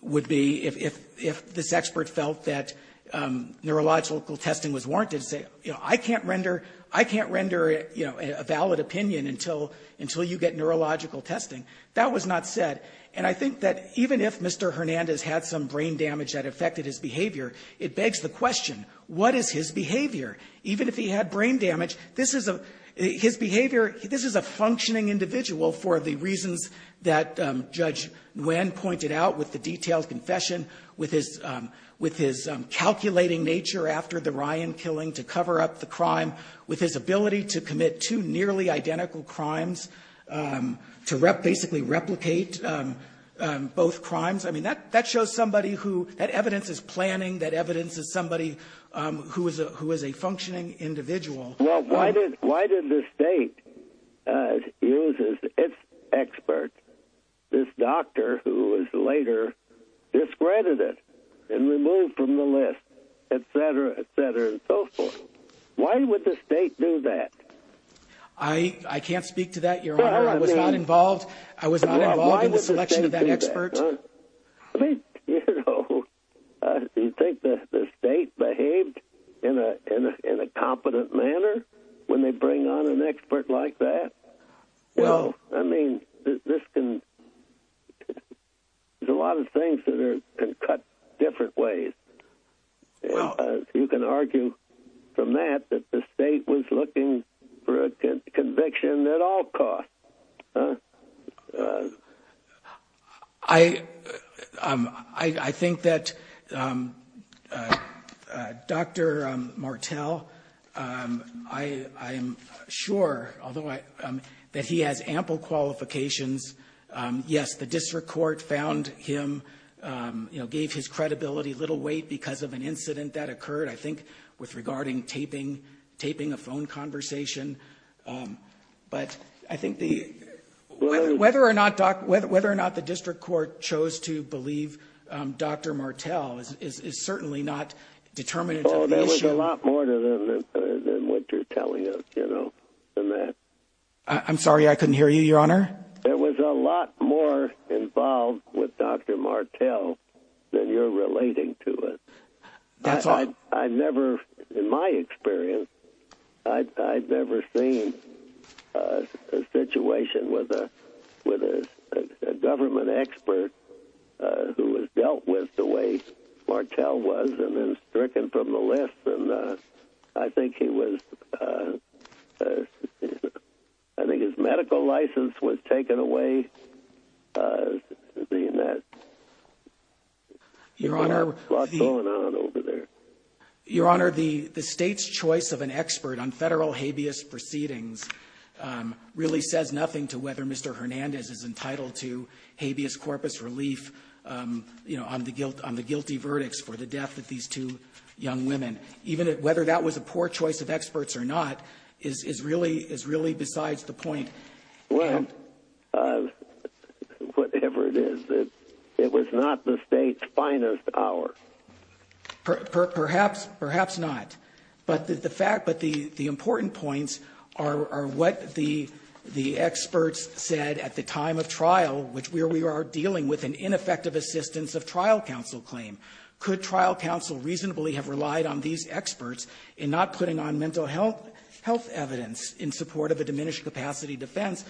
would be, if this expert felt that neurological testing was warranted, I can't render a valid opinion until you get neurological testing. That was not said, and I think that even if Mr. Hernandez had some brain damage that affected his behavior, it begs the question, what is his behavior? Even if he had brain damage, this is a functioning individual for the reasons that Judge Nguyen pointed out with the detailed confession, with his calculating nature after the Ryan killing to cover up the crime, with his ability to commit two nearly identical crimes, to basically replicate both crimes. That evidence is planning. That evidence is somebody who is a functioning individual. Well, why did the state use its expert, this doctor who was later discredited and removed from the list, et cetera, et cetera, and so forth? Why would the state do that? I can't speak to that, Your Honor. I was not involved in the selection of that expert. You think the state behaved in a competent manner when they bring on an expert like that? Well, I mean, there's a lot of things that are cut different ways. You can argue from that that the state was looking for a conviction at all costs. I think that Dr. Martel, I'm sure that he had ample qualifications. Yes, the district court found him, gave his credibility little weight because of an incident that occurred, I think, with regarding taping a phone conversation. But I think whether or not the district court chose to believe Dr. Martel is certainly not determined. Oh, there was a lot more to them than what you're telling us, you know, than that. I'm sorry, I couldn't hear you, Your Honor. There was a lot more involved with Dr. Martel than you're relating to us. In my experience, I've never seen a situation with a government expert who was dealt with the way Martel was and was stricken from the list. And I think his medical license was taken away in that. There's a lot going on over there. Your Honor, the state's choice of an expert on federal habeas proceedings really says nothing to whether Mr. Hernandez is entitled to habeas corpus relief on the guilty verdicts for the death of these two young women. Even whether that was a poor choice of experts or not is really besides the point. Well, whatever it is, it was not the state's finest hour. Perhaps not. But the important points are what the experts said at the time of trial, which we are dealing with an ineffective assistance of trial counsel claim. Could trial counsel reasonably have relied on these experts in not putting on mental health evidence in support of a diminished capacity defense?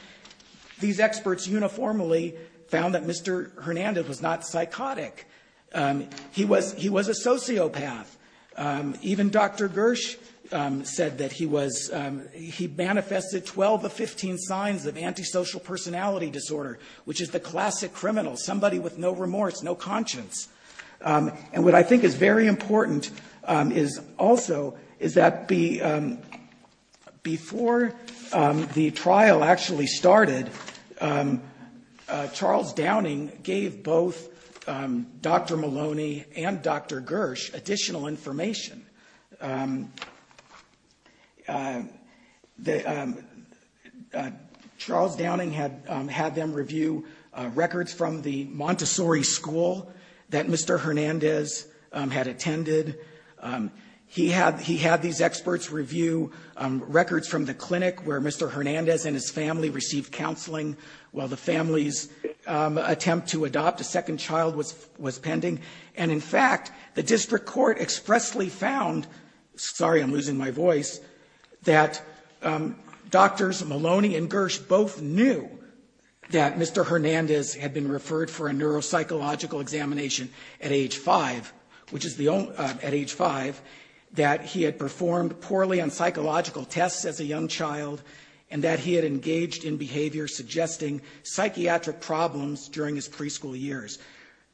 These experts uniformly found that Mr. Hernandez was not psychotic. He was a sociopath. Even Dr. Gersh said that he manifested 12 of 15 signs of antisocial personality disorder, which is the classic criminal, somebody with no remorse, no conscience. And what I think is very important also is that before the trial actually started, Charles Downing gave both Dr. Maloney and Dr. Gersh additional information. Charles Downing had them review records from the Montessori school that Mr. Hernandez had attended. He had these experts review records from the clinic where Mr. Hernandez and his family received counseling while the family's attempt to adopt a second child was pending. And, in fact, the district court expressly found, sorry, I'm losing my voice, that Drs. Maloney and Gersh both knew that Mr. Hernandez had been referred for a neuropsychological examination at age 5, which is at age 5, that he had performed poorly on psychological tests as a young child, and that he had engaged in behavior suggesting psychiatric problems during his preschool years.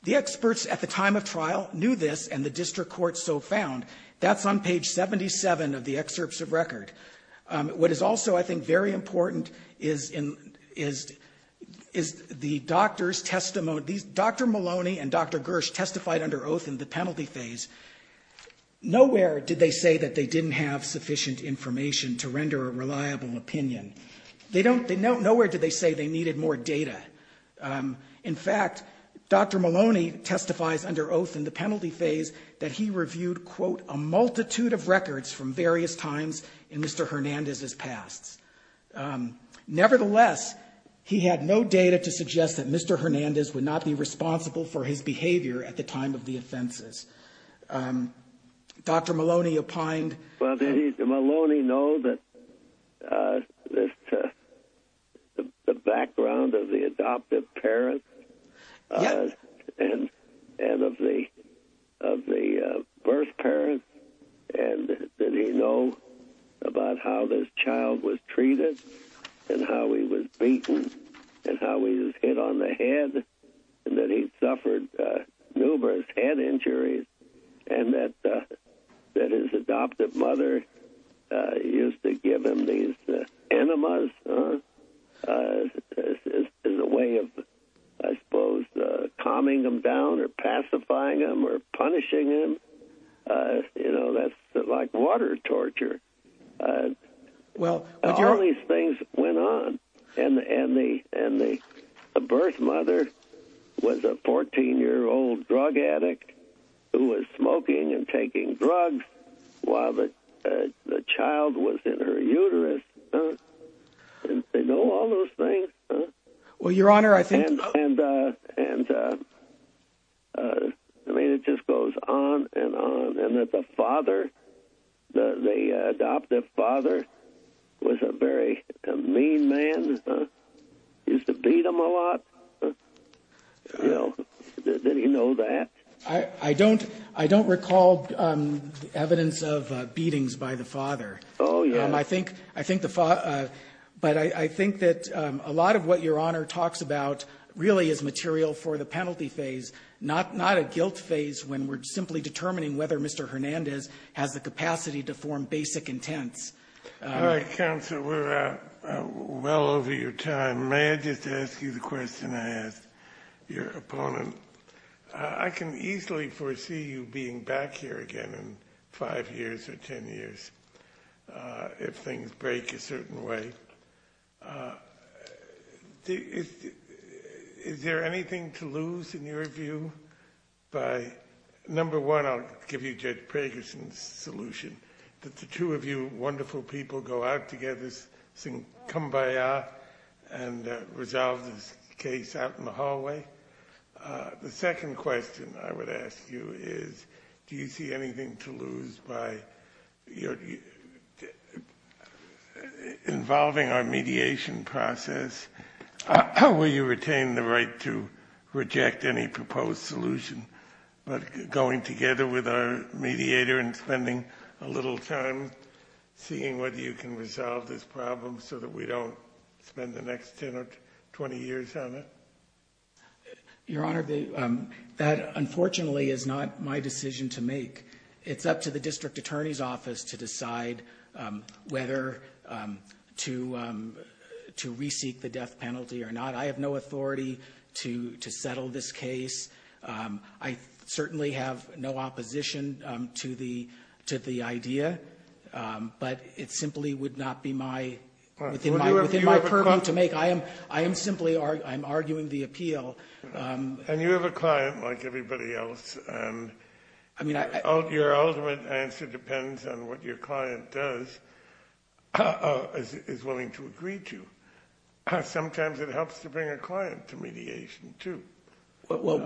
The experts at the time of trial knew this, and the district court so found. That's on page 77 of the excerpts of record. What is also, I think, very important is the doctor's testimony. Dr. Maloney and Dr. Gersh testified under oath in the penalty phase. Nowhere did they say that they didn't have sufficient information to render a reliable opinion. Nowhere did they say they needed more data. In fact, Dr. Maloney testifies under oath in the penalty phase that he reviewed, quote, a multitude of records from various times in Mr. Hernandez's past. Nevertheless, he had no data to suggest that Mr. Hernandez would not be responsible for his behavior at the time of the offenses. Dr. Maloney opined. Well, did Maloney know the background of the adoptive parents and of the birth parents? And did he know about how this child was treated and how he was beaten and how he was hit on the head and that he suffered numerous head injuries and that his adoptive mother used to give him these enemas as a way of, I suppose, calming him down or pacifying him or punishing him? You know, that's like water torture. All these things went on. And the birth mother was a 14-year-old drug addict who was smoking and taking drugs while the child was in her uterus. They know all those things. Well, Your Honor, I think. And, I mean, it just goes on and on. And the father, the adoptive father was a very mean man, used to beat him a lot. Well, did he know that? I don't recall evidence of beatings by the father. Oh, yes. But I think that a lot of what Your Honor talks about really is material for the penalty phase, not a guilt phase when we're simply determining whether Mr. Hernandez has the capacity to form basic intents. All right, counsel, we're well over your time. May I just ask you the question I asked your opponent? I can easily foresee you being back here again in five years or ten years if things break a certain way. Is there anything to lose in your view by, number one, I'll give you Judge Preggerson's solution, that the two of you wonderful people go out together, sing Kumbaya, and resolve this case out in the hallway? The second question I would ask you is do you see anything to lose by involving our mediation process? Will you retain the right to reject any proposed solution, but going together with our mediator and spending a little time seeing whether you can resolve this problem so that we don't spend the next 10 or 20 years on it? Your Honor, that unfortunately is not my decision to make. It's up to the district attorney's office to decide whether to reseek the death penalty or not. I have no authority to settle this case. I certainly have no opposition to the idea, but it simply would not be within my purview to make. I am simply arguing the appeal. And you have a client like everybody else, and your ultimate answer depends on what your client does is willing to agree to. Sometimes it helps to bring a client to mediation, too. Well,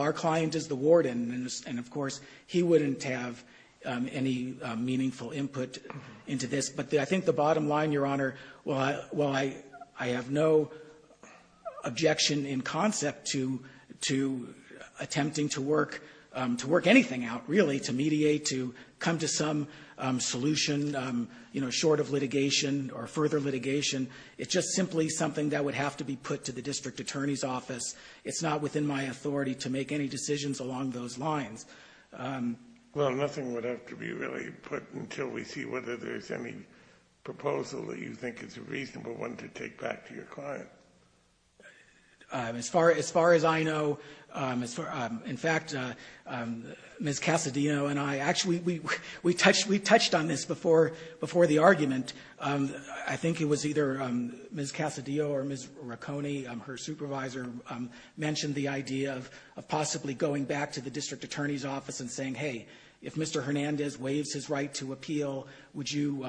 our client is the warden, and, of course, he wouldn't have any meaningful input into this. But I think the bottom line, Your Honor, while I have no objection in concept to attempting to work anything out, really, to mediate, to come to some solution short of litigation or further litigation, it's just simply something that would have to be put to the district attorney's office. It's not within my authority to make any decisions along those lines. Well, nothing would have to be really put until we see whether there's any proposal that you think is a reasonable one to take back to your client. As far as I know, in fact, Ms. Cassadino and I actually touched on this before the argument. I think it was either Ms. Cassadino or Ms. Racone, her supervisor, mentioned the idea of possibly going back to the district attorney's office and saying, hey, if Mr. Hernandez waives his right to appeal, would you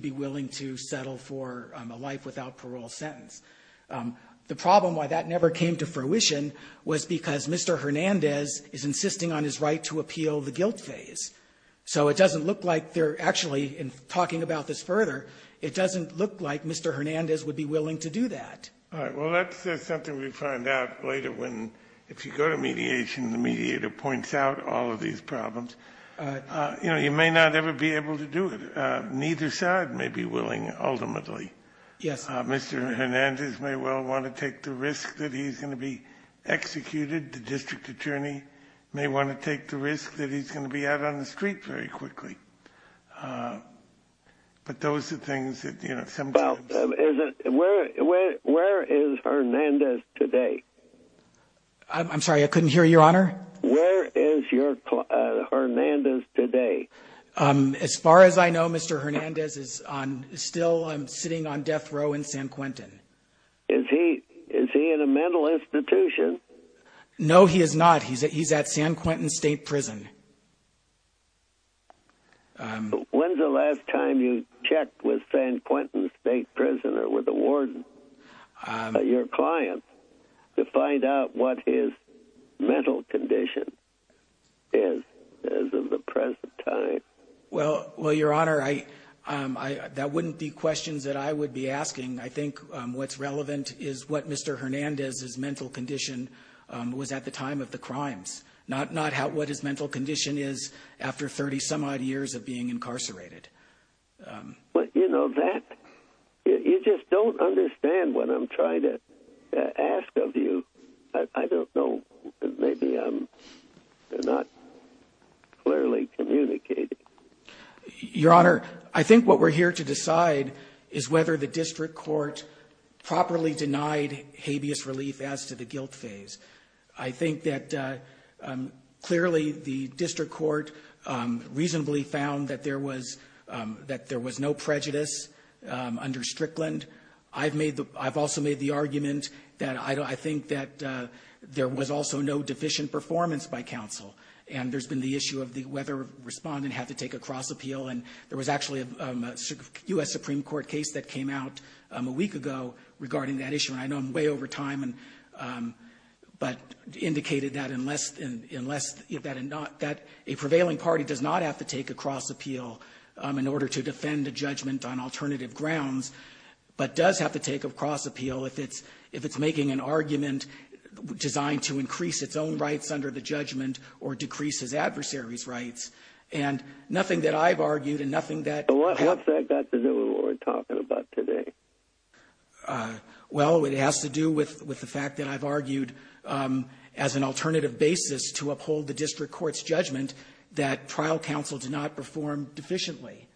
be willing to settle for a life without parole sentence? The problem why that never came to fruition was because Mr. Hernandez is insisting on his right to appeal the guilt phase. So it doesn't look like they're actually talking about this further. It doesn't look like Mr. Hernandez would be willing to do that. All right. Well, that's something we find out later when, if you go to mediation, the mediator points out all of these problems. You know, he may not ever be able to do it. Neither side may be willing, ultimately. Mr. Hernandez may well want to take the risk that he's going to be executed. The district attorney may want to take the risk that he's going to be out on the streets very quickly. But those are things that, you know, sometimes – Well, where is Hernandez today? I'm sorry, I couldn't hear you, Your Honor. Where is Hernandez today? As far as I know, Mr. Hernandez is still sitting on death row in San Quentin. Is he in a mental institution? No, he is not. He's at San Quentin State Prison. When is the last time you checked with San Quentin State Prison or with a warden, your client, to find out what his mental condition is as of the present time? Well, Your Honor, that wouldn't be questions that I would be asking. I think what's relevant is what Mr. Hernandez's mental condition was at the time of the crimes, not what his mental condition is after 30-some-odd years of being incarcerated. But, you know, you just don't understand what I'm trying to ask of you. I don't know. Maybe I'm not clearly communicating. Your Honor, I think what we're here to decide is whether the district court properly denied habeas relief as to the guilt phase. I think that clearly the district court reasonably found that there was no prejudice under Strickland. I've also made the argument that I think that there was also no deficient performance by counsel, and there's been the issue of whether a respondent had to take a cross appeal, and there was actually a U.S. Supreme Court case that came out a week ago regarding that issue. And I know I'm way over time, but indicated that a prevailing party does not have to take a cross appeal in order to defend a judgment on alternative grounds, but does have to take a cross appeal if it's making an argument designed to increase its own rights under the judgment or decrease its adversary's rights. And nothing that I've argued and nothing that... Well, it has to do with the fact that I've argued as an alternative basis to uphold the district court's judgment that trial counsel did not perform deficiently.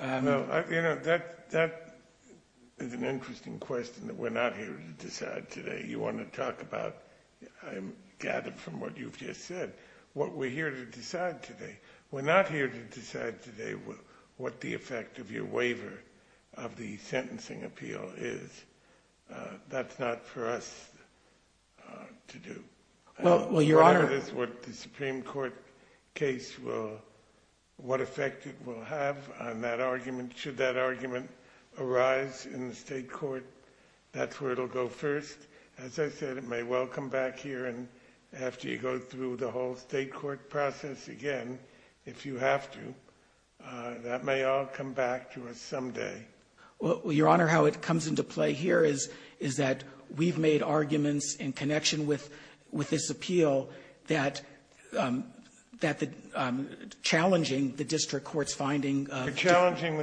You know, that is an interesting question that we're not here to decide today. You want to talk about, I gather from what you've just said, what we're here to decide today. We're not here to decide today what the effect of your waiver of the sentencing appeal is. That's not for us to do. Well, Your Honor... It's what the Supreme Court case will... what effect it will have on that argument. Should that argument arise in the state court, that's where it'll go first. As I said, it may well come back here after you go through the whole state court process again, if you have to. That may all come back to us someday. Well, Your Honor, how it comes into play here is that we've made arguments in connection with this appeal that challenging the district court's finding of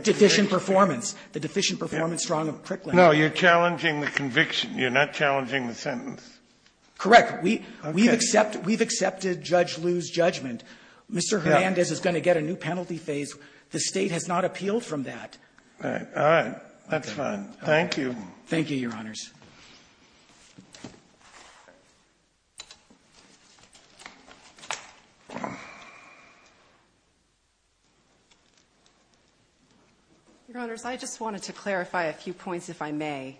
deficient performance, the deficient performance strong of Prickland. No, you're challenging the conviction. You're not challenging the sentence. Correct. We've accepted Judge Liu's judgment. Mr. Hernandez is going to get a new penalty phase. The state has not appealed from that. All right. That's fine. Thank you. Thank you, Your Honors. Judge? Your Honors, I just wanted to clarify a few points, if I may.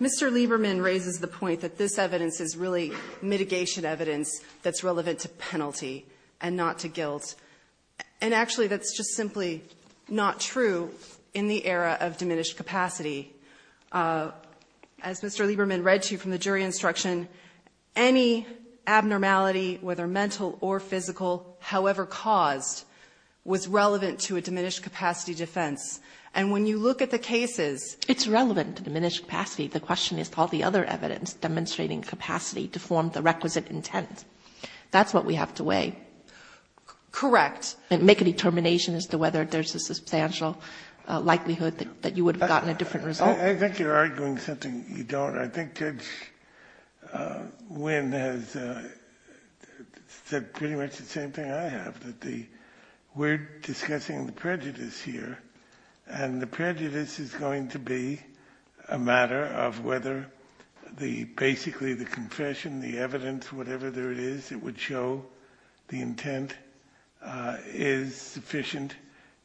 Mr. Lieberman raises the point that this evidence is really mitigation evidence that's relevant to penalty and not to guilt. Actually, that's just simply not true in the era of diminished capacity. As Mr. Lieberman read to you from the jury instruction, any abnormality, whether mental or physical, however caused, was relevant to a diminished capacity defense. When you look at the cases, it's relevant to diminished capacity. The question is, all the other evidence demonstrating capacity to form the requisite intent. That's what we have to weigh. Correct. Make a determination as to whether there's a substantial likelihood that you would have gotten a different result. I think you're arguing something you don't. I think Judge Wynn has said pretty much the same thing I have. We're discussing prejudice here, and the prejudice is going to be a matter of whether basically the confession, the evidence, whatever there is, it would show the intent is sufficient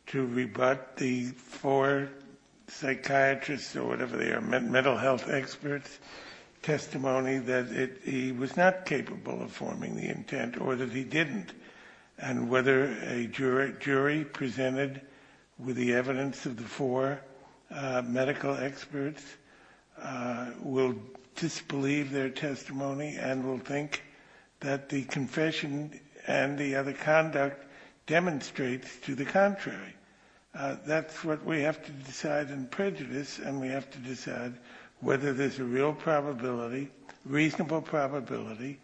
to rebut the four psychiatrists or whatever they are, mental health experts' testimony that he was not capable of forming the intent or that he didn't. And whether a jury presented with the evidence of the four medical experts will disbelieve their testimony and will think that the confession and the other conduct demonstrates to the contrary. That's what we have to decide in prejudice, and we have to decide whether there's a real probability, reasonable probability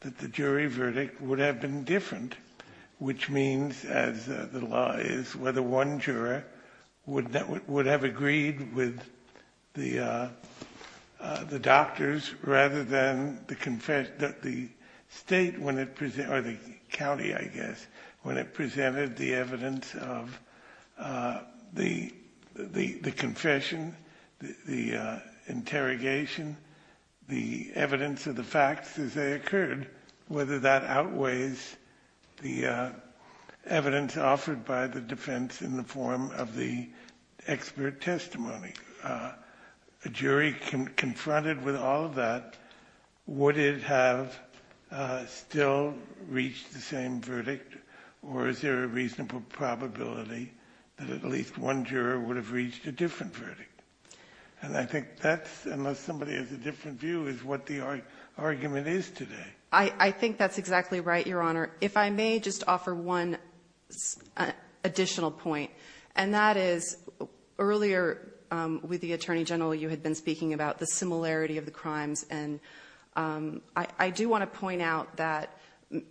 that the jury verdict would have been different, which means the lie is whether one juror would have agreed with the doctors rather than the state, or the county, I guess, when it presented the evidence of the confession, the interrogation, the evidence of the facts as they occurred, whether that outweighs the evidence offered by the defense in the form of the expert testimony. A jury confronted with all of that, would it have still reached the same verdict, or is there a reasonable probability that at least one juror would have reached a different verdict? And I think that's, unless somebody has a different view, is what the argument is today. I think that's exactly right, Your Honor. If I may just offer one additional point, and that is earlier with the Attorney General, you had been speaking about the similarity of the crimes, and I do want to point out that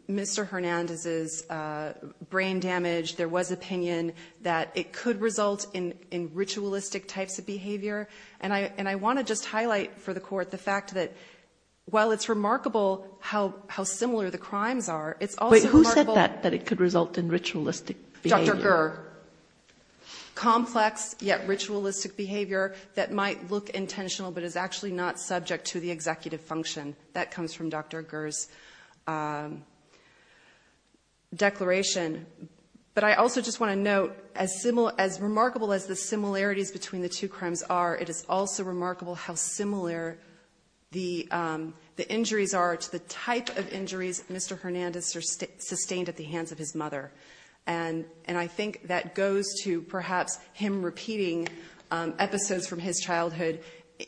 Mr. Hernandez's brain damage, there was opinion that it could result in ritualistic types of behavior, and I want to just highlight for the Court the fact that while it's remarkable how similar the crimes are, it's also remarkable... Wait, who said that, that it could result in ritualistic behavior? Dr. Gurr. Complex yet ritualistic behavior that might look intentional but is actually not subject to the executive function. That comes from Dr. Gurr's declaration. But I also just want to note, as remarkable as the similarities between the two crimes are, it is also remarkable how similar the injuries are to the type of injuries Mr. Hernandez sustained at the hands of his mother. And I think that goes to perhaps him repeating episodes from his childhood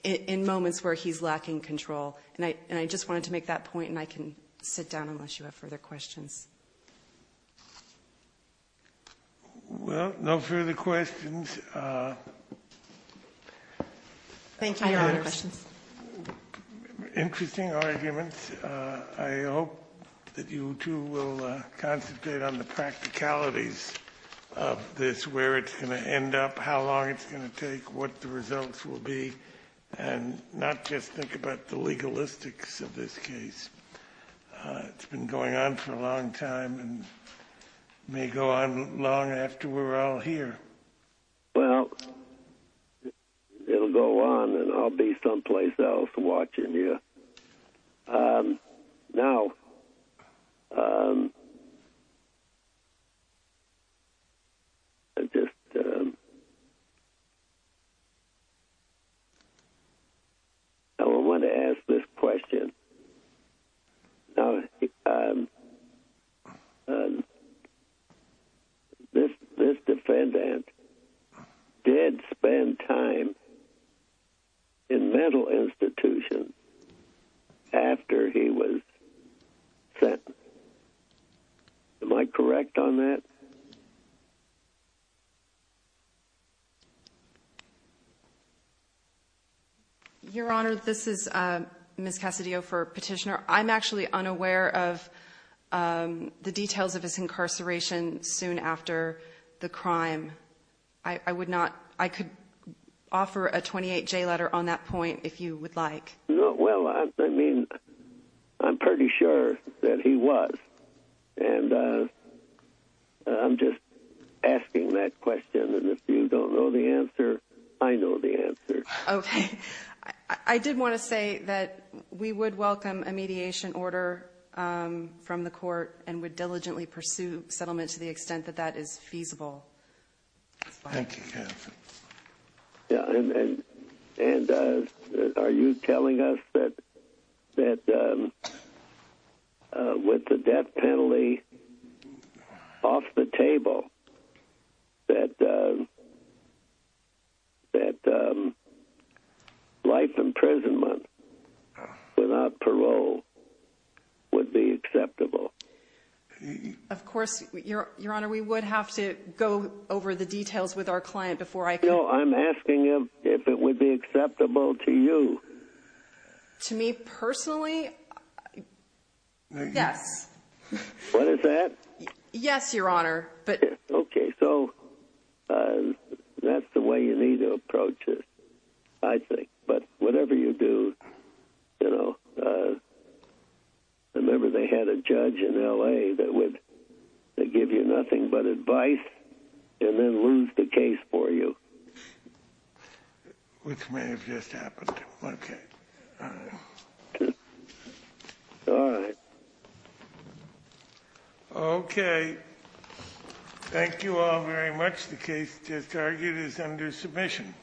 in moments where he's lacking control. And I just wanted to make that point, and I can sit down unless you have further questions. Well, no further questions. Thank you, Your Honor. Interesting arguments. I hope that you two will concentrate on the practicalities of this, where it's going to end up, how long it's going to take, what the results will be, and not just think about the legalistics of this case. It's been going on for a long time and may go on long after we're all here. Well, it'll go on, and I'll be someplace else watching you. Now, I just want to ask this question. Now, this defendant did spend time in mental institutions after he was sentenced. Am I correct on that? Your Honor, this is Ms. Cassadio for Petitioner. I'm actually unaware of the details of his incarceration soon after the crime. I could offer a 28-J letter on that point if you would like. Well, I mean, I'm pretty sure that he was. And I'm just asking that question, and if you don't know the answer, I know the answer. Okay. I did want to say that we would welcome a mediation order from the court and would diligently pursue settlement to the extent that that is feasible. Thank you, Cass. Yeah, and are you telling us that with the death penalty off the table, that life imprisonment without parole would be acceptable? Of course, Your Honor, we would have to go over the details with our client before I can. No, I'm asking if it would be acceptable to you. To me personally, yes. What is that? Yes, Your Honor. Okay, so that's the way you need to approach it, I think. But whatever you do, you know, remember they had a judge in L.A. that would give you nothing but advice and then lose the case for you. Which may have just happened. Okay. All right. Okay. Thank you all very much. The case to the target is under submission.